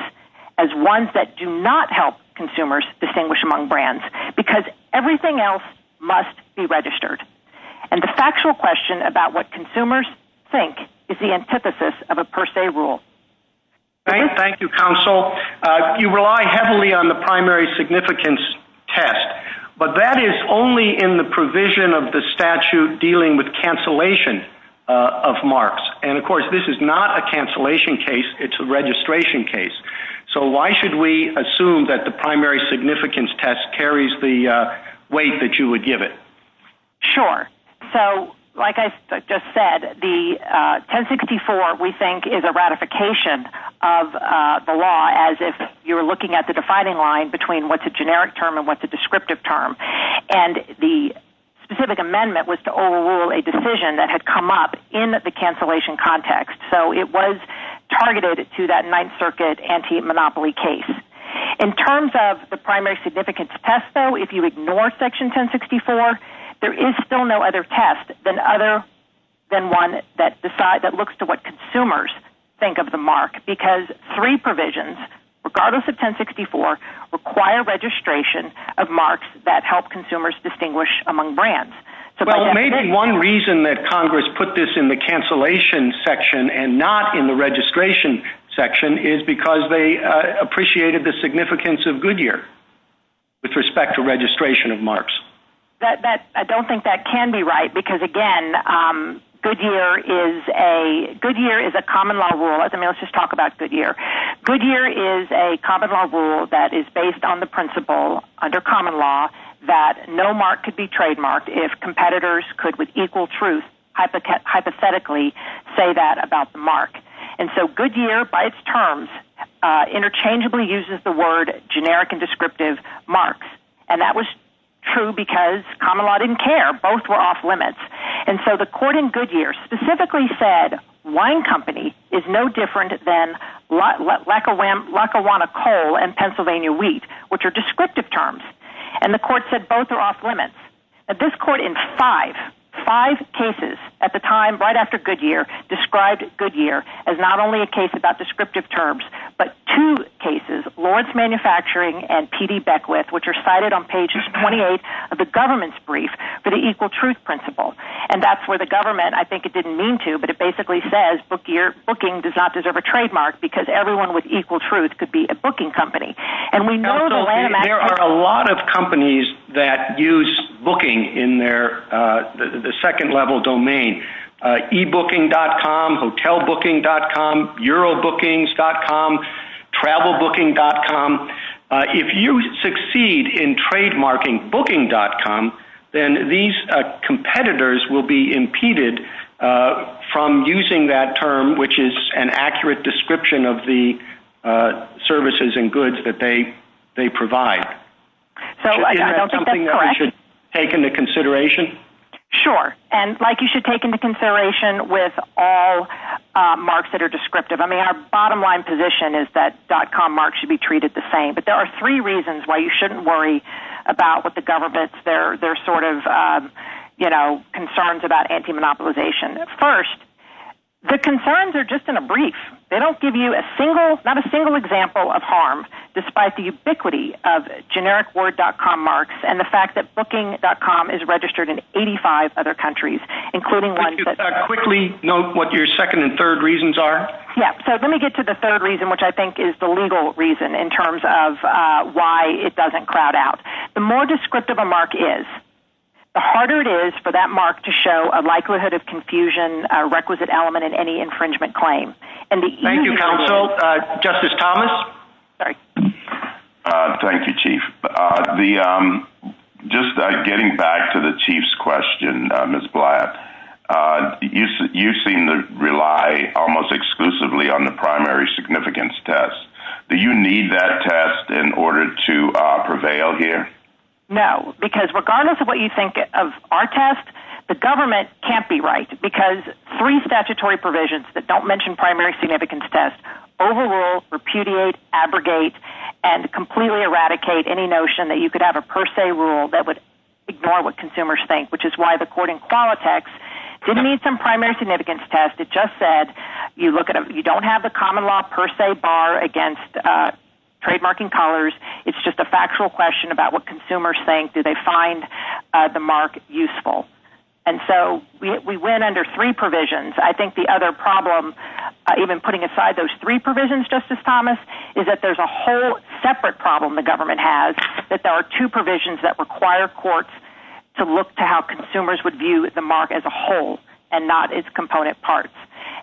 as ones that do not help consumers distinguish among brands. Because everything else must be registered. And the factual question about what consumers think is the antithesis of a per se rule. Thank you, Counsel. You rely heavily on the primary significance test. But that is only in the provision of the statute dealing with cancellation of marks. And, of course, this is not a cancellation case. It's a registration case. So why should we assume that the primary significance test carries the weight that you would give it? Sure. So, like I just said, the 1064, we think, is a ratification of the law as if you were looking at the dividing line between what's a generic term and what's a descriptive term. And the specific amendment was to overrule a decision that had come up in the cancellation context. So it was targeted to that Ninth Circuit anti-monopoly case. In terms of the primary significance test, though, if you ignore section 1064, there is still no other test than one that looks to what consumers think of the mark. Because three provisions, regardless of 1064, require registration of marks that help consumers distinguish among brands. Well, maybe one reason that Congress put this in the cancellation section and not in the registration section is because they appreciated the significance of Goodyear with respect to registration of marks. I don't think that can be right. Because, again, Goodyear is a common law rule. Let's just talk about Goodyear. Goodyear is a common law rule that is based on the principle, under common law, that no mark could be trademarked if competitors could, with equal truth, hypothetically say that about the mark. And so Goodyear, by its terms, interchangeably uses the word generic and descriptive marks. And that was true because common law didn't care. Both were off limits. And so the court in Goodyear specifically said wine company is no different than Lackawanna coal and Pennsylvania wheat, which are descriptive terms. And the court said both are off limits. This court in five, five cases at the time, right after Goodyear, described Goodyear as not only a case about descriptive terms, but two cases, Lord's Manufacturing and P.D. Beckwith, which are cited on page 28 of the government's brief for the equal truth principle. And that's where the government, I think it didn't mean to, but it basically says booking does not deserve a trademark because everyone with equal truth could be a booking company. There are a lot of companies that use booking in their second level domain, ebooking.com, hotelbooking.com, eurobookings.com, travelbooking.com. If you succeed in trademarking booking.com, then these competitors will be impeded from using that term, which is an accurate description of the services and goods that they provide. Is that something that we should take into consideration? Sure. And Mike, you should take into consideration with all marks that are descriptive. I mean, our bottom line position is that dot-com marks should be treated the same. But there are three reasons why you shouldn't worry about what the government's, their sort of, you know, concerns about anti-monopolization. First, the concerns are just in a brief. They don't give you a single, not a single example of harm, despite the ubiquity of generic word dot-com marks and the fact that booking.com is registered in 85 other countries, including one. Could you quickly note what your second and third reasons are? Yeah. So let me get to the third reason, which I think is the legal reason in terms of why it doesn't crowd out. The more descriptive a mark is, the harder it is for that mark to show a likelihood of confusion, a requisite element in any infringement claim. Thank you, counsel. Justice Thomas? Sorry. Thank you, Chief. Just getting back to the chief's question, Ms. Blatt, you seem to rely almost exclusively on the primary significance test. Do you need that test in order to prevail here? No, because regardless of what you think of our test, the government can't be right, because three statutory provisions that don't mention primary significance test overrule, repudiate, abrogate, and completely eradicate any notion that you could have a per se rule that would ignore what consumers think, which is why the court in Qualitex didn't need some primary significance test. It just said you don't have the common law per se bar against trademarking colors. It's just a factual question about what consumers think. Do they find the mark useful? And so we went under three provisions. I think the other problem, even putting aside those three provisions, Justice Thomas, is that there's a whole separate problem the government has, that there are two provisions that require courts to look to how consumers would view the mark as a whole and not its component parts.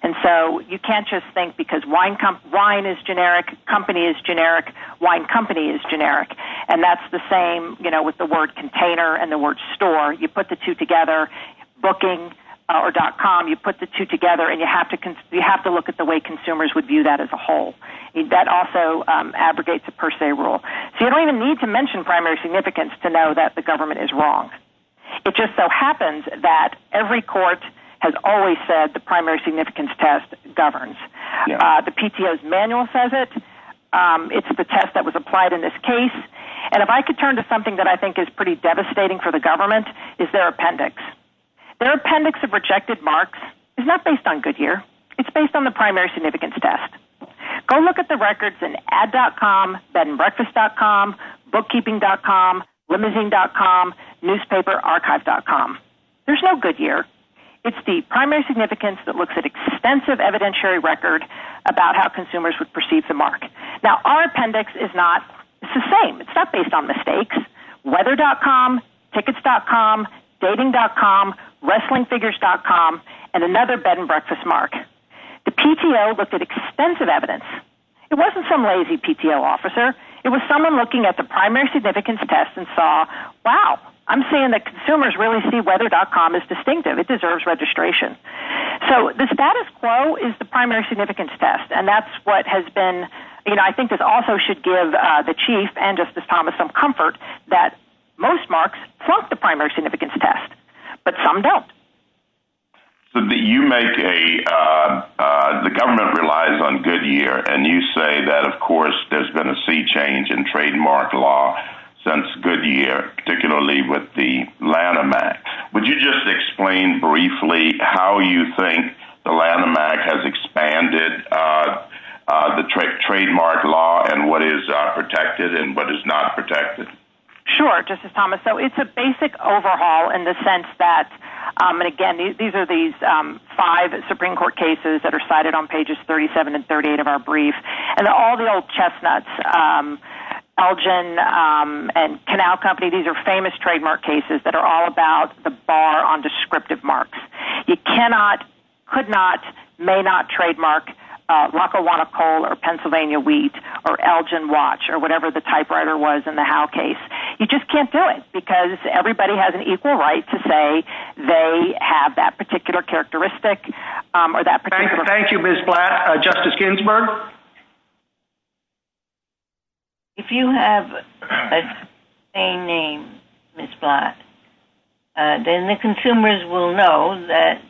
And so you can't just think because wine is generic, company is generic, wine company is generic, and that's the same, you know, with the word container and the word store. You put the two together, booking or dot com, you put the two together, and you have to look at the way consumers would view that as a whole. That also abrogates a per se rule. So you don't even need to mention primary significance to know that the government is wrong. It just so happens that every court has always said the primary significance test governs. The PTO's manual says it. It's the test that was applied in this case. And if I could turn to something that I think is pretty devastating for the government, it's their appendix. Their appendix of rejected marks is not based on Goodyear. It's based on the primary significance test. Go look at the records in ad.com, bedandbreakfast.com, bookkeeping.com, limiting.com, newspaperarchive.com. There's no Goodyear. It's the primary significance that looks at extensive evidentiary record about how consumers would perceive the mark. Now, our appendix is the same. It's not based on mistakes. Weather.com, tickets.com, dating.com, wrestlingfigures.com, and another bedandbreakfast mark. The PTO looked at extensive evidence. It wasn't some lazy PTO officer. It was someone looking at the primary significance test and saw, wow, I'm seeing that consumers really see weather.com as distinctive. It deserves registration. So the status quo is the primary significance test, and that's what has been, you know, I think it also should give the chief and Justice Thomas some comfort that most marks plus the primary significance test, but some don't. So you make a, the government relies on Goodyear, and you say that, of course, there's been a sea change in trademark law since Goodyear, particularly with the Lanham Act. Would you just explain briefly how you think the Lanham Act has expanded the trademark law and what is protected and what is not protected? Sure, Justice Thomas. So it's a basic overhaul in the sense that, again, these are these five Supreme Court cases that are cited on pages 37 and 38 of our brief, and all the old chestnuts, Elgin and Canal Company, these are famous trademark cases that are all about the bar on descriptive marks. You cannot, could not, may not trademark Rock-A-Wanna-Coal or Pennsylvania Wheat or Elgin Watch or whatever the typewriter was in the Howe case. You just can't do it because everybody has an equal right to say they have that particular characteristic or that particular. Thank you, Ms. Blatt. Justice Ginsburg? If you have the same name, Ms. Blatt, then the consumers will know that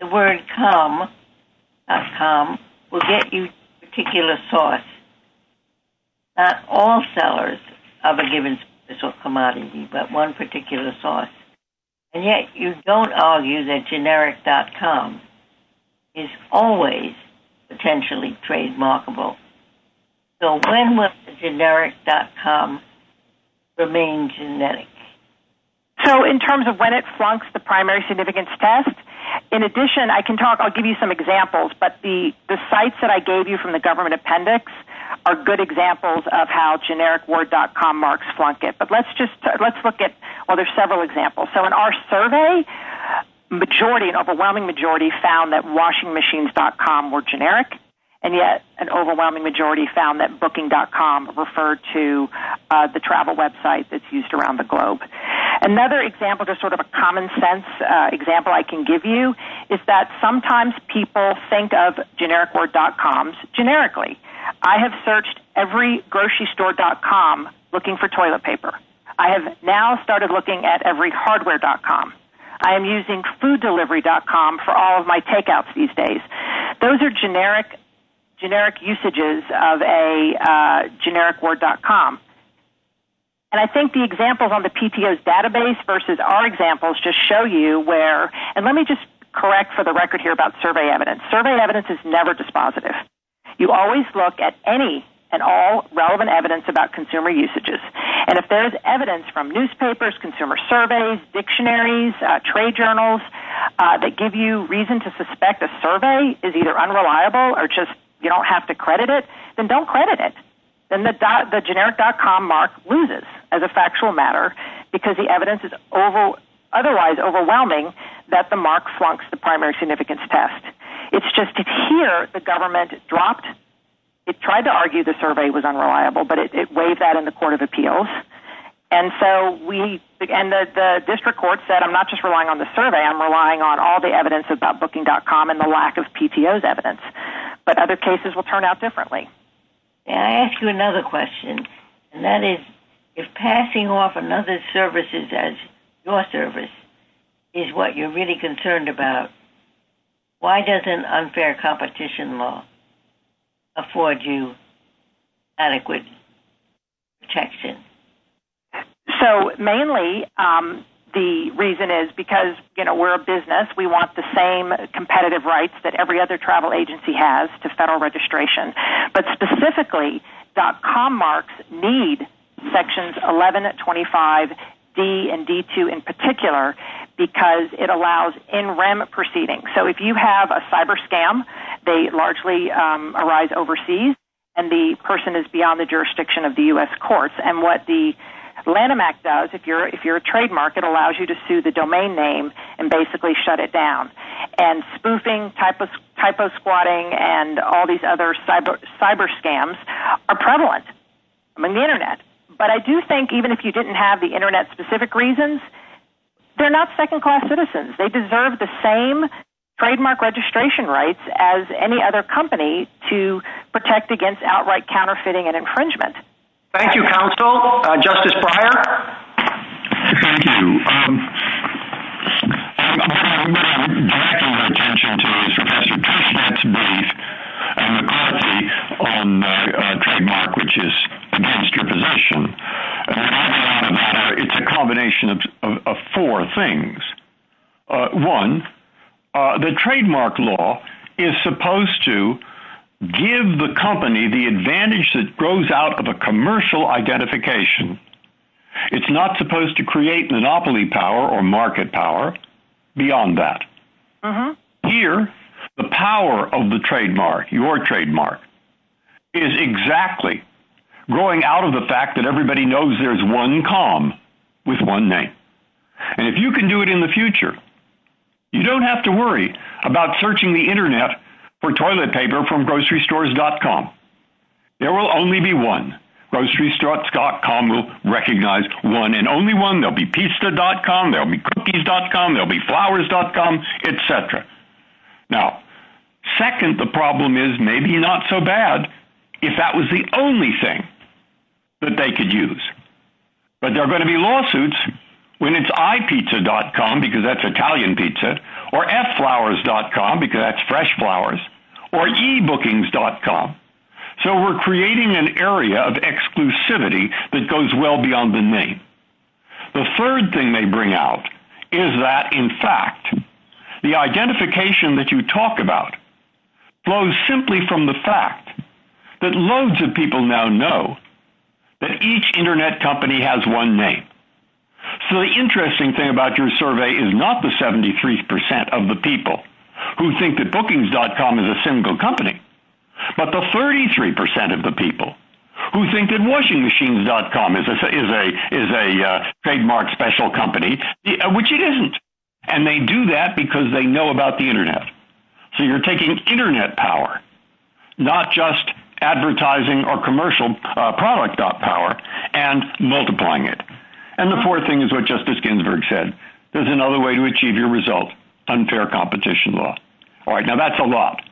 the word com.com will get you a particular source, not all sellers of a given commodity, but one particular source. And yet you don't argue that generic.com is always potentially trademarkable. So when will generic.com remain genetic? So in terms of when it flunks the primary significance test, in addition I can talk, I'll give you some examples, but the sites that I gave you from the government appendix are good examples of how generic word.com marks flunk it. But let's just, let's look at, well, there's several examples. So in our survey, majority, an overwhelming majority found that washingmachines.com were generic, and yet an overwhelming majority found that booking.com referred to the travel website that's used around the globe. Another example, just sort of a common sense example I can give you, is that sometimes people think of generic word.coms generically. I have searched every grocery store.com looking for toilet paper. I have now started looking at every hardware.com. I am using fooddelivery.com for all of my takeouts these days. Those are generic usages of a generic word.com. And I think the examples on the PTO's database versus our examples just show you where, and let me just correct for the record here about survey evidence. Survey evidence is never dispositive. You always look at any and all relevant evidence about consumer usages. And if there's evidence from newspapers, consumer surveys, dictionaries, trade journals, that give you reason to suspect a survey is either unreliable or just you don't have to credit it, then don't credit it. Then the generic.com mark loses as a factual matter because the evidence is otherwise overwhelming that the mark flunks the primary significance test. It's just that here the government dropped, it tried to argue the survey was unreliable, but it weighed that in the Court of Appeals. And so we, and the district court said I'm not just relying on the survey, I'm relying on all the evidence about booking.com and the lack of PTO's evidence. But other cases will turn out differently. May I ask you another question? And that is, if passing off another's services as your service is what you're really concerned about, why doesn't unfair competition law afford you adequate protection? So mainly the reason is because, you know, we're a business. We want the same competitive rights that every other travel agency has to federal registration. But specifically, .com marks need sections 1125D and D2 in particular because it allows in rem proceedings. So if you have a cyber scam, they largely arise overseas and the person is beyond the jurisdiction of the U.S. courts. And what the Lanham Act does, if you're a trademark, it allows you to sue the domain name and basically shut it down. And spoofing, typosquatting, and all these other cyber scams are prevalent on the Internet. But I do think even if you didn't have the Internet-specific reasons, they're not second-class citizens. They deserve the same trademark registration rights as any other company to protect against outright counterfeiting and infringement. Thank you, counsel. Justice Breyer? Thank you. I'd like to draw your attention to Professor Kerslake's belief on the trademark, which is against your possession. It's a combination of four things. One, the trademark law is supposed to give the company the advantage that grows out of a commercial identification. It's not supposed to create monopoly power or market power beyond that. Here, the power of the trademark, your trademark, is exactly growing out of the fact that everybody knows there's one com with one name. And if you can do it in the future, you don't have to worry about searching the Internet for toilet paper from grocerystores.com. There will only be one. Grocerystores.com will recognize one and only one. There'll be pizza.com, there'll be cookies.com, there'll be flowers.com, et cetera. Now, second, the problem is maybe not so bad if that was the only thing that they could use. But there are going to be lawsuits when it's ipizza.com, because that's Italian pizza, or fflowers.com, because that's fresh flowers, or ebookings.com. So we're creating an area of exclusivity that goes well beyond the name. The third thing they bring out is that, in fact, the identification that you talk about flows simply from the fact that loads of people now know that each Internet company has one name. So the interesting thing about your survey is not the 73% of the people who think that bookings.com is a single company, but the 33% of the people who think that washingmachines.com is a trademark special company, which it isn't. And they do that because they know about the Internet. So you're taking Internet power, not just advertising or commercial product power, and multiplying it. And the fourth thing is what Justice Ginsburg said. There's another way to achieve your result, unfair competition law. All right, now that's a lot,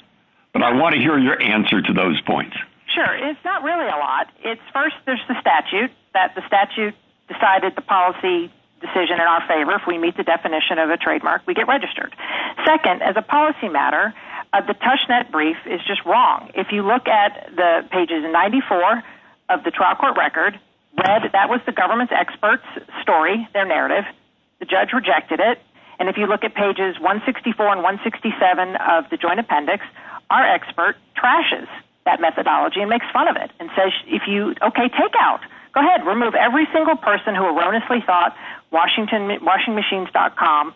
but I want to hear your answer to those points. Sure, it's not really a lot. First, there's the statute, that the statute decided the policy decision in our favor. If we meet the definition of a trademark, we get registered. Second, as a policy matter, the Tushnet brief is just wrong. If you look at pages 94 of the trial court record, that was the government's expert's story, their narrative. The judge rejected it. And if you look at pages 164 and 167 of the joint appendix, our expert trashes that methodology and makes fun of it. Okay, take out. Go ahead, remove every single person who erroneously thought washingmachines.com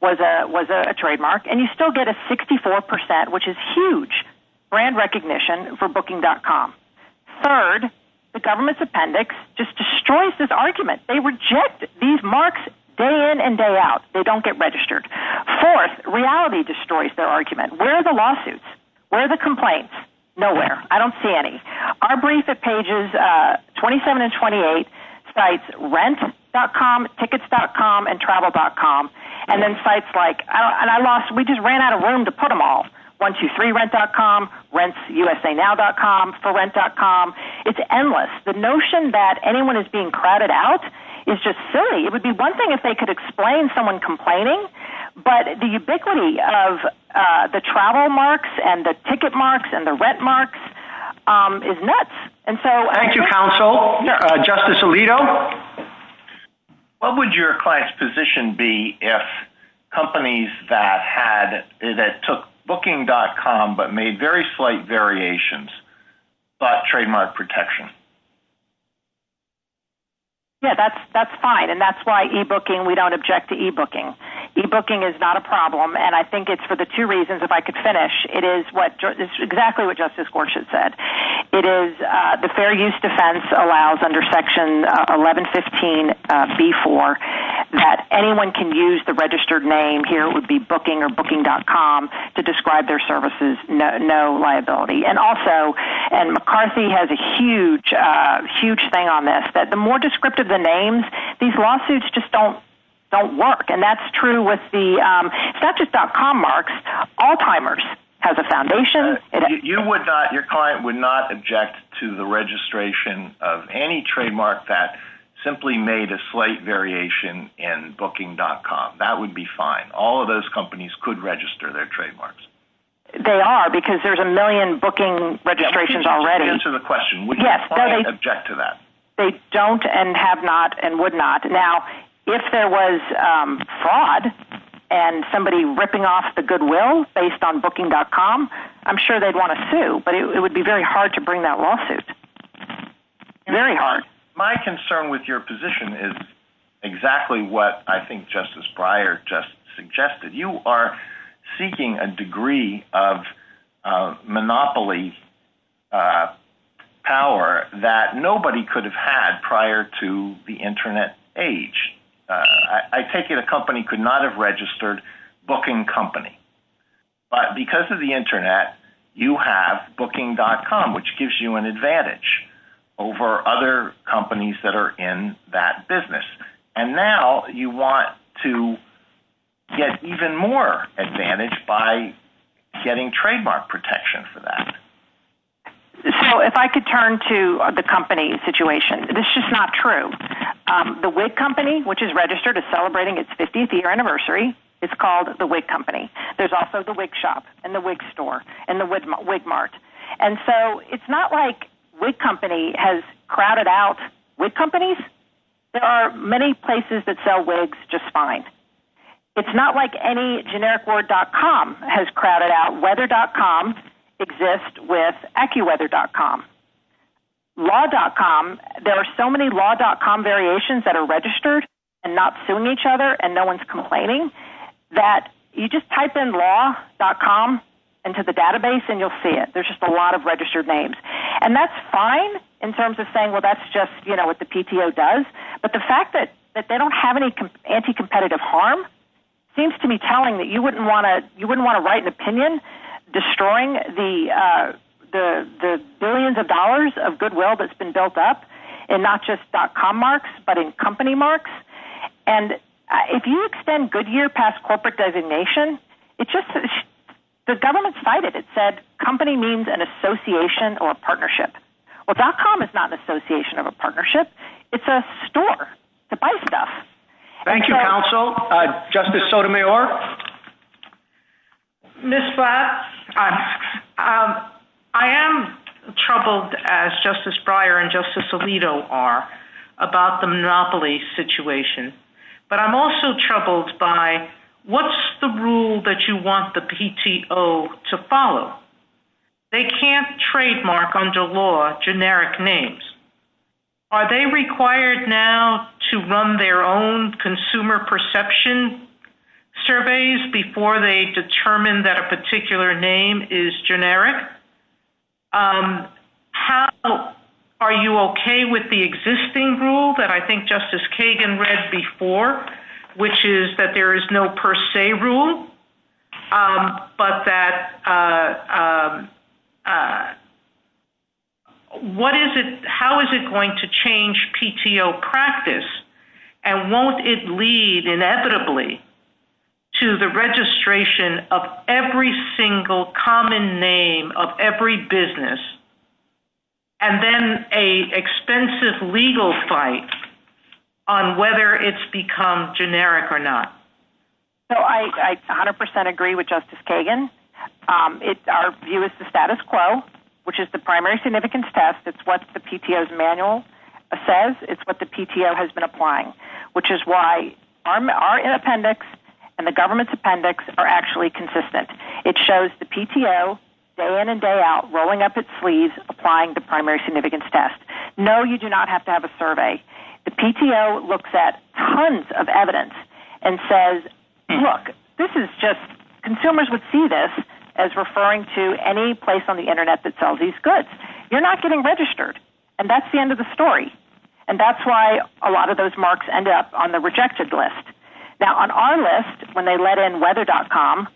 was a trademark. And you still get a 64%, which is huge brand recognition for booking.com. Third, the government's appendix just destroys this argument. They reject these marks day in and day out. They don't get registered. Fourth, reality destroys their argument. Where are the lawsuits? Where are the complaints? Nowhere. I don't see any. Our brief at pages 27 and 28 cites rent.com, tickets.com, and travel.com. And then cites like, and I lost, we just ran out of room to put them all. 123rent.com, rentusainow.com, forent.com. It's endless. The notion that anyone is being crowded out is just silly. It would be one thing if they could explain someone complaining. But the ubiquity of the travel marks and the ticket marks and the rent marks is nuts. Thank you, counsel. Justice Alito? What would your client's position be if companies that took booking.com but made very slight variations thought trademark protection? Yeah, that's fine. And that's why e-booking, we don't object to e-booking. E-booking is not a problem. And I think it's for the two reasons, if I could finish, it is exactly what Justice Gorsuch said. It is the fair use defense allows under Section 1115B4 that anyone can use the registered name. Here it would be booking or booking.com to describe their services, no liability. And McCarthy has a huge thing on this, that the more descriptive the names, these lawsuits just don't work. And that's true with the Statutes.com marks. Alzheimer's has a foundation. Your client would not object to the registration of any trademark that simply made a slight variation in booking.com. That would be fine. All of those companies could register their trademarks. They are, because there's a million booking registrations already. Just answer the question. Would your client object to that? They don't and have not and would not. Now, if there was fraud and somebody ripping off the goodwill based on booking.com, I'm sure they'd want to sue. But it would be very hard to bring that lawsuit. Very hard. My concern with your position is exactly what I think Justice Breyer just suggested. You are seeking a degree of monopoly power that nobody could have had prior to the Internet age. I take it a company could not have registered booking company. But because of the Internet, you have booking.com, which gives you an advantage over other companies that are in that business. And now you want to get even more advantage by getting trademark protection for that. If I could turn to the company situation, this is not true. The wig company, which is registered as celebrating its 50th year anniversary, is called the wig company. There's also the wig shop and the wig store and the wig mart. And so it's not like wig company has crowded out wig companies. There are many places that sell wigs just fine. It's not like any generic word .com has crowded out. Weather.com exists with AccuWeather.com. Law.com, there are so many Law.com variations that are registered and not suing each other and no one's complaining that you just type in Law.com into the database and you'll see it. There's just a lot of registered names. And that's fine in terms of saying, well, that's just what the PTO does. But the fact that they don't have any anti-competitive harm seems to be telling that you wouldn't want to write an opinion destroying the billions of dollars of goodwill that's been built up in not just .com marks but in company marks. And if you extend Goodyear past corporate designation, it's just the government cited it. Well, .com is not an association of a partnership. It's a store to buy stuff. Thank you, counsel. Justice Sotomayor. Ms. Blatt, I am troubled, as Justice Breyer and Justice Alito are, about the monopoly situation. But I'm also troubled by what's the rule that you want the PTO to follow? They can't trademark under law generic names. Are they required now to run their own consumer perception surveys before they determine that a particular name is generic? Are you okay with the existing rule that I think Justice Kagan read before, which is that there is no per se rule, but that how is it going to change PTO practice? And won't it lead inevitably to the registration of every single common name of every business and then an expensive legal fight on whether it's become generic or not? So I 100% agree with Justice Kagan. Our view is the status quo, which is the primary significance test. It's what the PTO's manual says. It's what the PTO has been applying, which is why our appendix and the government's appendix are actually consistent. It shows the PTO day in and day out, rolling up its sleeves, applying the primary significance test. No, you do not have to have a survey. The PTO looks at tons of evidence and says, look, consumers would see this as referring to any place on the Internet that sells these goods. You're not getting registered, and that's the end of the story. And that's why a lot of those marks end up on the rejected list. Now, on our list, when they let in weather.com,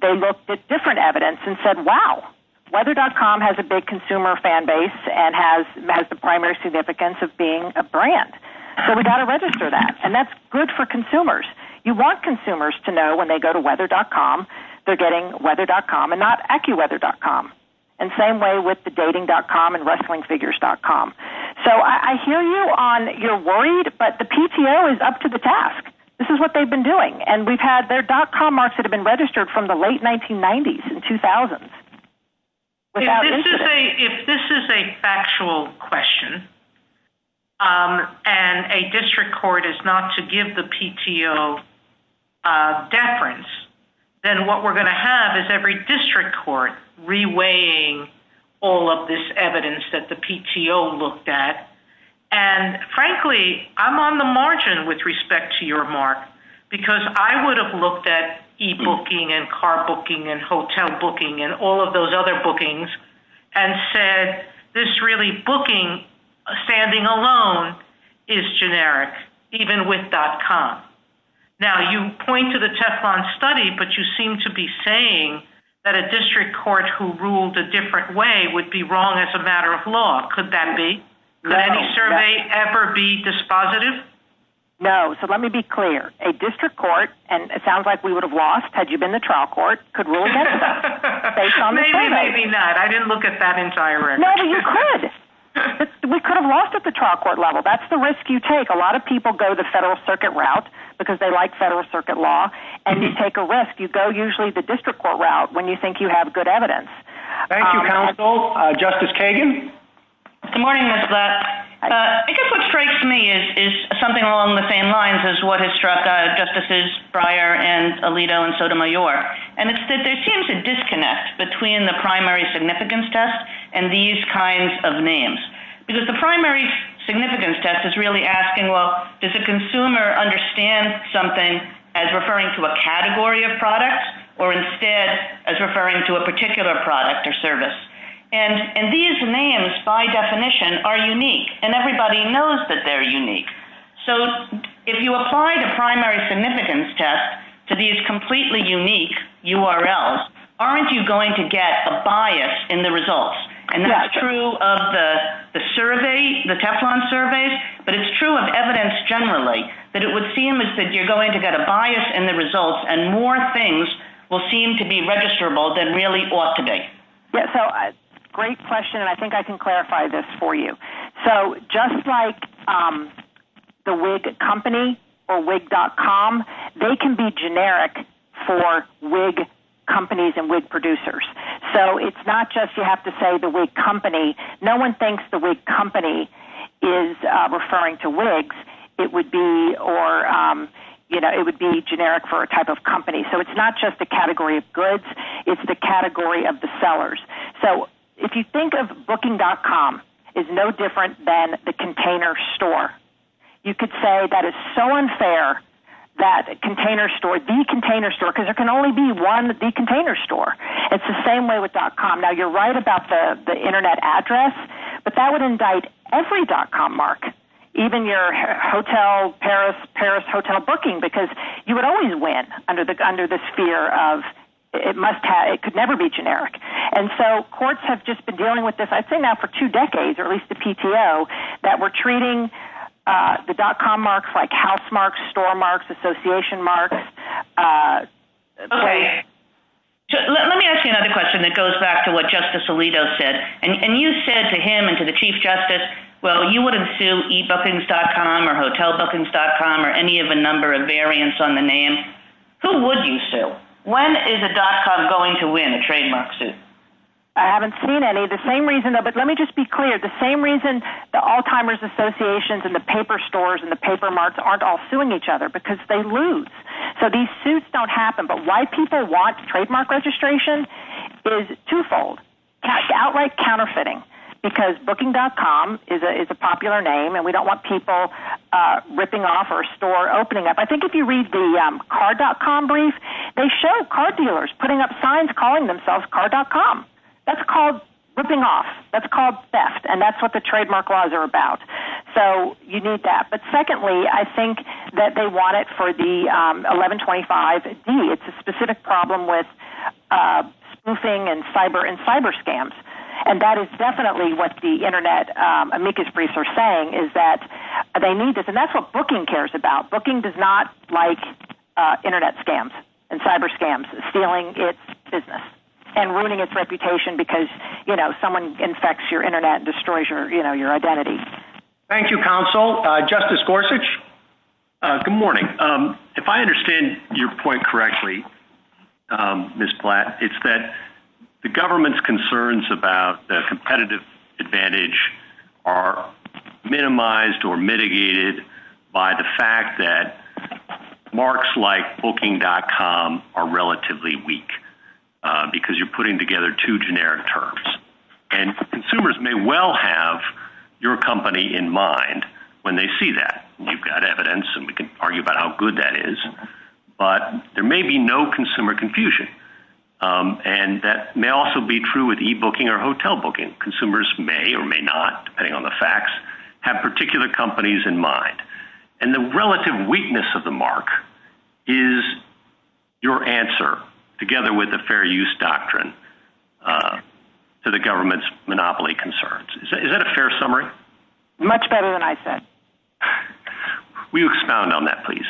they looked at different evidence and said, wow, weather.com has a big consumer fan base and has the primary significance of being a brand. So we've got to register that, and that's good for consumers. You want consumers to know when they go to weather.com, they're getting weather.com and not ecuweather.com. And same way with the dating.com and wrestlingfigures.com. So I hear you on you're worried, but the PTO is up to the task. This is what they've been doing. And we've had their.com marks that have been registered from the late 1990s and 2000s. If this is a factual question and a district court is not to give the PTO deference, then what we're going to have is every district court reweighing all of this evidence that the PTO looked at. And frankly, I'm on the margin with respect to your mark, because I would have looked at e-booking and car booking and hotel booking and all of those other bookings and said this really booking standing alone is generic, even with.com. Now, you point to the Teflon study, but you seem to be saying that a district court who ruled a different way would be wrong as a matter of law. Could that be that survey ever be dispositive? No. So let me be clear. A district court. And it sounds like we would have lost. Had you been the trial court, could we look at it? Maybe, maybe not. I didn't look at that entire. You could. We could have lost at the trial court level. That's the risk you take. A lot of people go the federal circuit route because they like federal circuit law. And you take a risk. You go usually the district court route when you think you have good evidence. Thank you, counsel. Justice Kagan? Good morning, Ms. Lutz. I guess what strikes me is something along the same lines as what has struck Justices Breyer and Alito and Sotomayor. And it's that there seems a disconnect between the primary significance test and these kinds of names. Because the primary significance test is really asking, well, does the consumer understand something as referring to a category of products or instead as referring to a particular product or service? And these names, by definition, are unique. And everybody knows that they're unique. So if you apply the primary significance test to these completely unique URLs, aren't you going to get a bias in the results? And that's true of the survey, the Teflon surveys, but it's true of evidence generally that it would seem as if you're going to get a bias in the results and more things will seem to be registrable than really ought to be. Yeah, so great question, and I think I can clarify this for you. So just like the wig company or wig.com, they can be generic for wig companies and wig producers. So it's not just you have to say the wig company. No one thinks the wig company is referring to wigs. It would be generic for a type of company. So it's not just the category of goods. It's the category of the sellers. So if you think of booking.com, it's no different than the container store. You could say that it's so unfair that container store, the container store, because there can only be one the container store. It's the same way with .com. Now, you're right about the Internet address, but that would indict every .com mark, even your hotel, Paris, Paris hotel booking, because you would always win under this fear of it could never be generic. And so courts have just been dealing with this, I'd say now for two decades, at least the PTO, that we're treating the .com marks like house marks, store marks, association marks. Let me ask you another question that goes back to what Justice Alito said. And you said to him and to the Chief Justice, well, you wouldn't sue ebookings.com or hotelbookings.com or any of the number of variants on the name. Who would you sue? When is a .com going to win a trademark suit? I haven't seen any. The same reason, but let me just be clear, the same reason the Alzheimer's associations and the paper stores and the paper marks aren't all suing each other, because they lose. So these suits don't happen. But why people want trademark registration is twofold. It's outright counterfeiting, because booking.com is a popular name, and we don't want people ripping off or a store opening up. I think if you read the car.com brief, they show car dealers putting up signs calling themselves car.com. That's called ripping off. That's called theft, and that's what the trademark laws are about. So you need that. But secondly, I think that they want it for the 1125D. It's a specific problem with spoofing and cyber scams. And that is definitely what the Internet amicus briefs are saying, is that they need this. And that's what booking cares about. Booking does not like Internet scams and cyber scams, stealing its business, and ruining its reputation because, you know, someone infects your Internet and destroys your identity. Thank you, Counsel. Justice Gorsuch? Good morning. If I understand your point correctly, Ms. Platt, it's that the government's concerns about the competitive advantage are minimized or mitigated by the fact that marks like booking.com are relatively weak because you're putting together two generic terms. And consumers may well have your company in mind when they see that. We've got evidence, and we can argue about how good that is, but there may be no consumer confusion. And that may also be true with e-booking or hotel booking. Consumers may or may not, depending on the facts, have particular companies in mind. And the relative weakness of the mark is your answer, together with the fair use doctrine, to the government's monopoly concerns. Is that a fair summary? Much better than I said. Will you expound on that, please?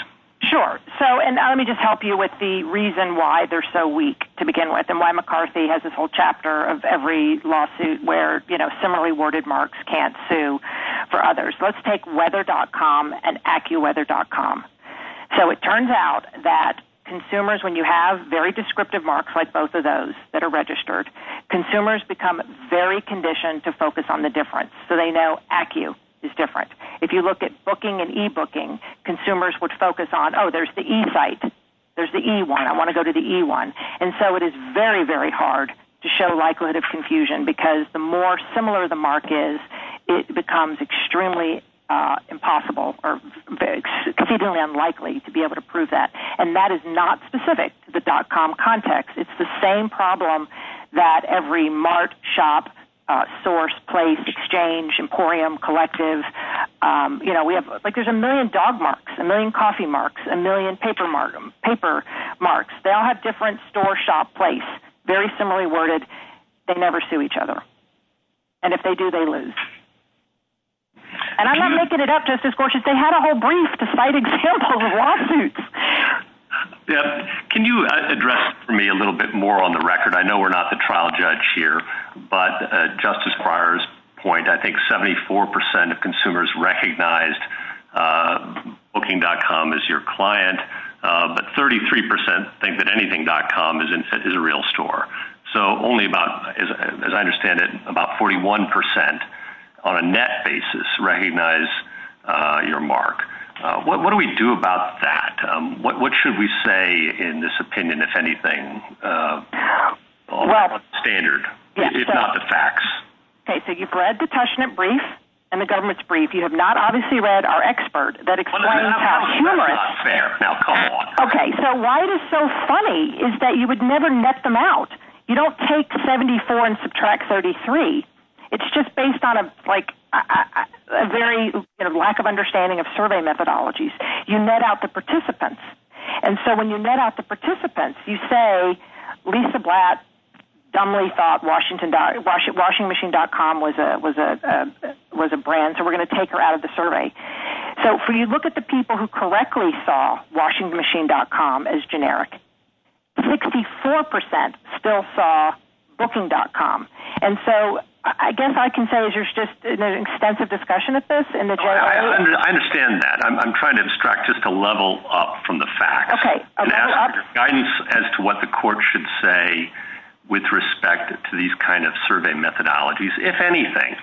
Sure. So let me just help you with the reason why they're so weak to begin with and why McCarthy has this whole chapter of every lawsuit where similarly worded marks can't sue for others. Let's take weather.com and accuweather.com. So it turns out that consumers, when you have very descriptive marks like both of those that are registered, consumers become very conditioned to focus on the difference. So they know accu is different. If you look at booking and e-booking, consumers would focus on, oh, there's the E site. There's the E one. I want to go to the E one. And so it is very, very hard to show likelihood of confusion because the more similar the mark is, it becomes extremely impossible or exceedingly unlikely to be able to prove that. And that is not specific to the dot-com context. It's the same problem that every mart, shop, source, place, exchange, emporium, collective. You know, like there's a million dog marks, a million coffee marks, a million paper marks. They all have different store, shop, place, very similarly worded. They never sue each other. And if they do, they lose. And I'm not making it up, Justice Gorsuch. They had a whole brief to cite examples of lawsuits. Can you address for me a little bit more on the record? I know we're not the trial judge here, but Justice Breyer's point, I think 74% of consumers recognized booking.com as your client, but 33% think that anything.com is a real store. So only about, as I understand it, about 41% on a net basis recognize your mark. What do we do about that? What should we say in this opinion, if anything, standard, if not the facts? Okay, so you've read the Tushnet brief and the government's brief. You have not obviously read our expert. Okay, so why it is so funny is that you would never net them out. You don't take 74 and subtract 33. It's just based on a very lack of understanding of survey methodologies. You net out the participants. And so when you net out the participants, you say, Lisa Blatt dumbly thought washing machine.com was a brand, so we're going to take her out of the survey. So if you look at the people who correctly saw washing machine.com as generic, 64% still saw booking.com. And so I guess I can say there's just an extensive discussion of this. I understand that. I'm trying to instruct us to level up from the facts. Okay. And ask for guidance as to what the court should say with respect to these kind of survey methodologies, if anything.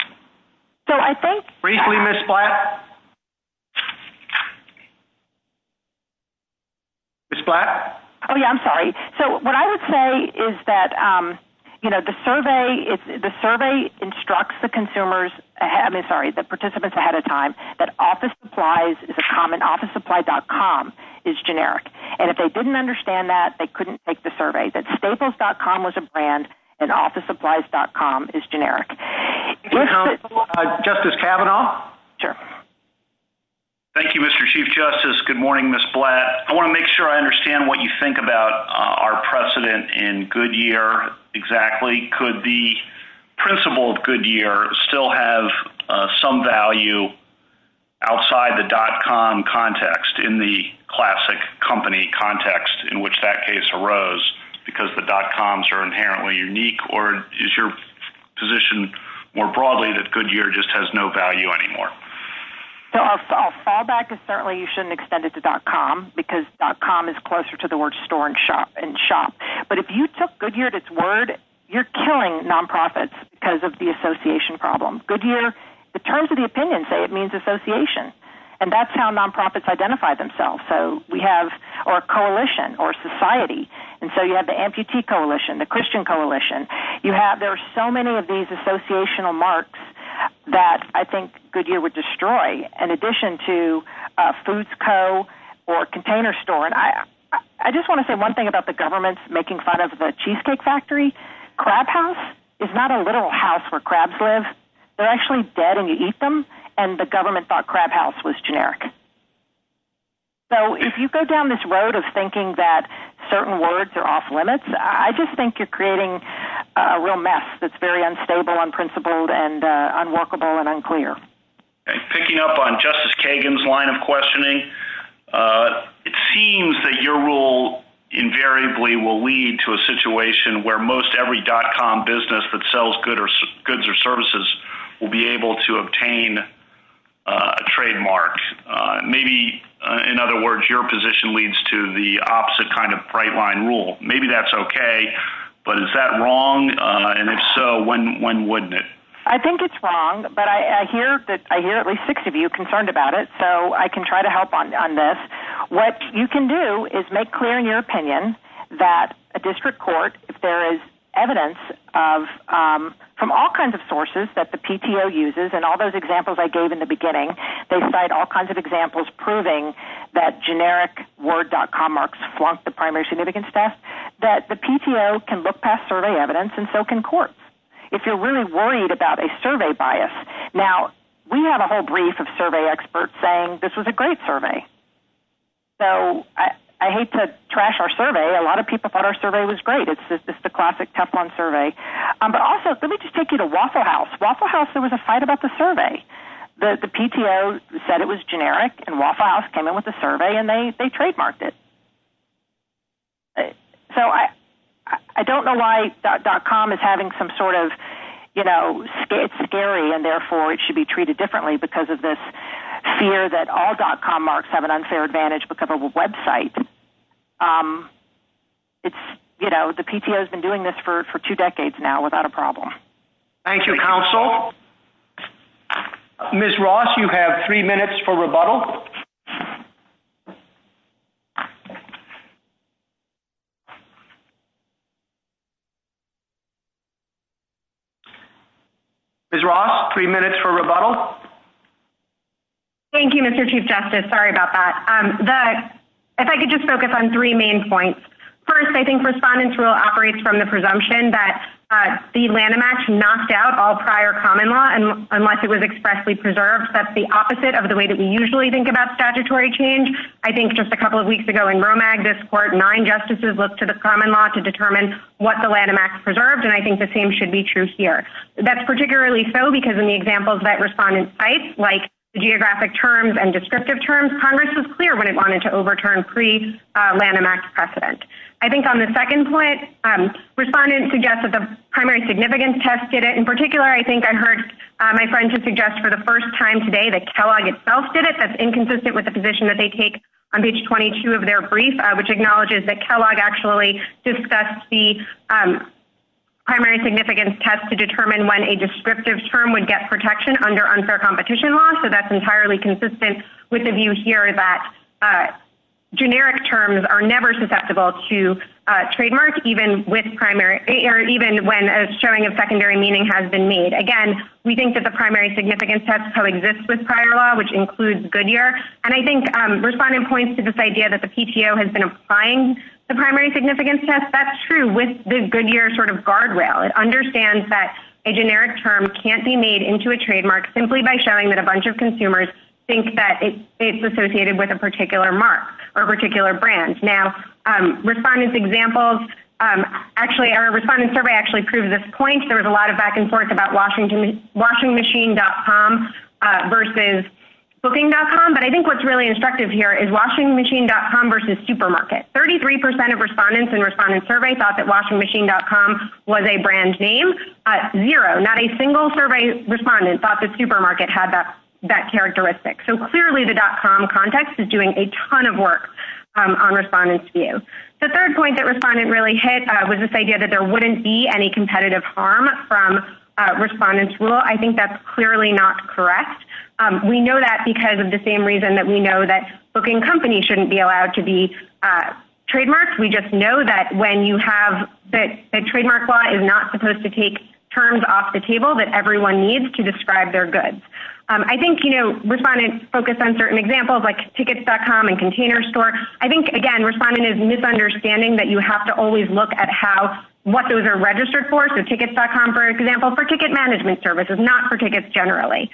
Briefly, Ms. Blatt. Ms. Blatt. Oh, yeah, I'm sorry. So what I would say is that, you know, the survey instructs the consumers, I mean, sorry, the participants ahead of time that office supplies is a common office supply.com is generic. And if they didn't understand that, they couldn't take the survey. Justice Kavanaugh. Sure. Thank you, Mr. Chief Justice. Good morning, Ms. Blatt. I want to make sure I understand what you think about our precedent in Goodyear exactly. Could the principle of Goodyear still have some value outside the .com context in the classic company context in which that case arose because the .coms are inherently unique? Or is your position more broadly that Goodyear just has no value anymore? So I'll fall back. Certainly you shouldn't extend it to .com because .com is closer to the word store and shop. But if you took Goodyear at its word, you're killing nonprofits because of the association problem. Goodyear, the terms of the opinion say it means association. And that's how nonprofits identify themselves. So we have our coalition or society. And so you have the amputee coalition, the Christian coalition. There are so many of these associational marks that I think Goodyear would destroy in addition to Foods Co. or Container Store. And I just want to say one thing about the government making fun of the Cheesecake Factory. Crab house is not a literal house where crabs live. They're actually dead and you eat them. And the government thought crab house was generic. So if you go down this road of thinking that certain words are off limits, I just think you're creating a real mess that's very unstable, unprincipled, and unworkable and unclear. Picking up on Justice Kagan's line of questioning, it seems that your rule invariably will lead to a situation where most every .com business that sells goods or services will be able to obtain a trademark. Maybe, in other words, your position leads to the opposite kind of bright line rule. Maybe that's okay, but is that wrong? And if so, when wouldn't it? I think it's wrong, but I hear at least six of you concerned about it, so I can try to help on this. What you can do is make clear in your opinion that a district court, if there is evidence from all kinds of sources that the PTO uses, and all those examples I gave in the beginning, they cite all kinds of examples proving that generic word.com marks flunked the primary significance test, that the PTO can look past survey evidence and so can courts. If you're really worried about a survey bias, now we have a whole brief of survey experts saying this was a great survey. So I hate to trash our survey. A lot of people thought our survey was great. It's just a classic Teflon survey. But also, let me just take you to Waffle House. Waffle House, there was a fight about the survey. The PTO said it was generic, and Waffle House came in with a survey, and they trademarked it. So I don't know why .com is having some sort of, you know, it's scary, and therefore it should be treated differently because of this fear that all .com marks have an unfair advantage because of a website. You know, the PTO has been doing this for two decades now without a problem. Thank you, counsel. Ms. Ross, you have three minutes for rebuttal. Ms. Ross, three minutes for rebuttal. Thank you, Mr. Chief Justice. Sorry about that. If I could just focus on three main points. First, I think Respondent's Rule operates from the presumption that the Lanham Act knocked out all prior common law unless it was expressly preserved. That's the opposite of the way that we usually think about statutory change. I think just a couple of weeks ago in Romag, this Court of Nine Justices looked to the common law to determine what the Lanham Act preserved, and I think the same should be true here. That's particularly so because in the examples that Respondent cites, like geographic terms and descriptive terms, Congress was clear when it wanted to overturn pre-Lanham Act precedent. I think on the second point, Respondent suggests that the primary significance test did it. In particular, I think I heard my friend suggest for the first time today that Kellogg itself did it. That's inconsistent with the position that they take on page 22 of their brief, which acknowledges that Kellogg actually discussed the primary significance test to determine when a descriptive term would get protection under unfair competition law. So that's entirely consistent with the view here that generic terms are never susceptible to trademarks, even when a showing of secondary meaning has been made. Again, we think that the primary significance test coexists with prior law, which includes Goodyear. And I think Respondent points to this idea that the PTO has been applying the primary significance test. That's true with the Goodyear sort of guardrail. It understands that a generic term can't be made into a trademark simply by showing that a bunch of consumers think that it's associated with a particular mark or particular brand. Now respondents' examples, actually, our respondent survey actually proves this point. There was a lot of back and forth about washing machine.com versus booking.com, but I think what's really instructive here is washing machine.com versus supermarket. 33% of respondents in respondent survey thought that washing machine.com was a brand name. Zero, not a single survey respondent thought that supermarket had that characteristic. So clearly the dot-com context is doing a ton of work on respondents' view. The third point that respondent really hit was this idea that there wouldn't be any competitive harm from a respondent's rule. I think that's clearly not correct. We know that because of the same reason that we know that booking companies shouldn't be allowed to be trademarked. We just know that when you have, that the trademark law is not supposed to take terms off the table that everyone needs to describe their goods. I think, you know, respondents focus on certain examples like tickets.com and container store. I think, again, respondent is misunderstanding that you have to always look at how, what those are registered for. So tickets.com, for example, for ticket management services, not for tickets generally.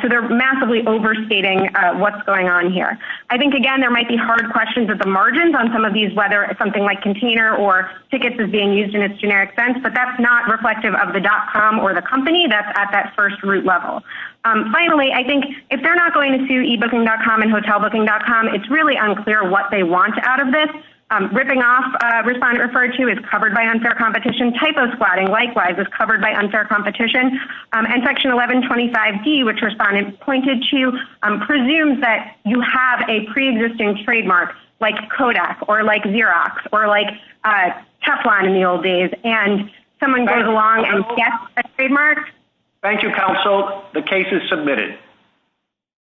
So they're massively overstating what's going on here. I think, again, there might be hard questions of the margins on some of these, whether it's something like container or tickets is being used in its generic sense, but that's not reflective of the dot-com or the company that's at that first root level. Finally, I think if they're not going to see ebooking.com and hotel, booking.com, it's really unclear what they want out of this. I'm ripping off. Respondent referred to is covered by unfair competition. Type of squatting. Likewise is covered by unfair competition and section 1125 D, which responded pointed to, I'm presumed that you have a preexisting trademark like Kodak or like Xerox or like a Teflon in the old days. And someone goes along. Yes. Trademark. Thank you. The case is submitted.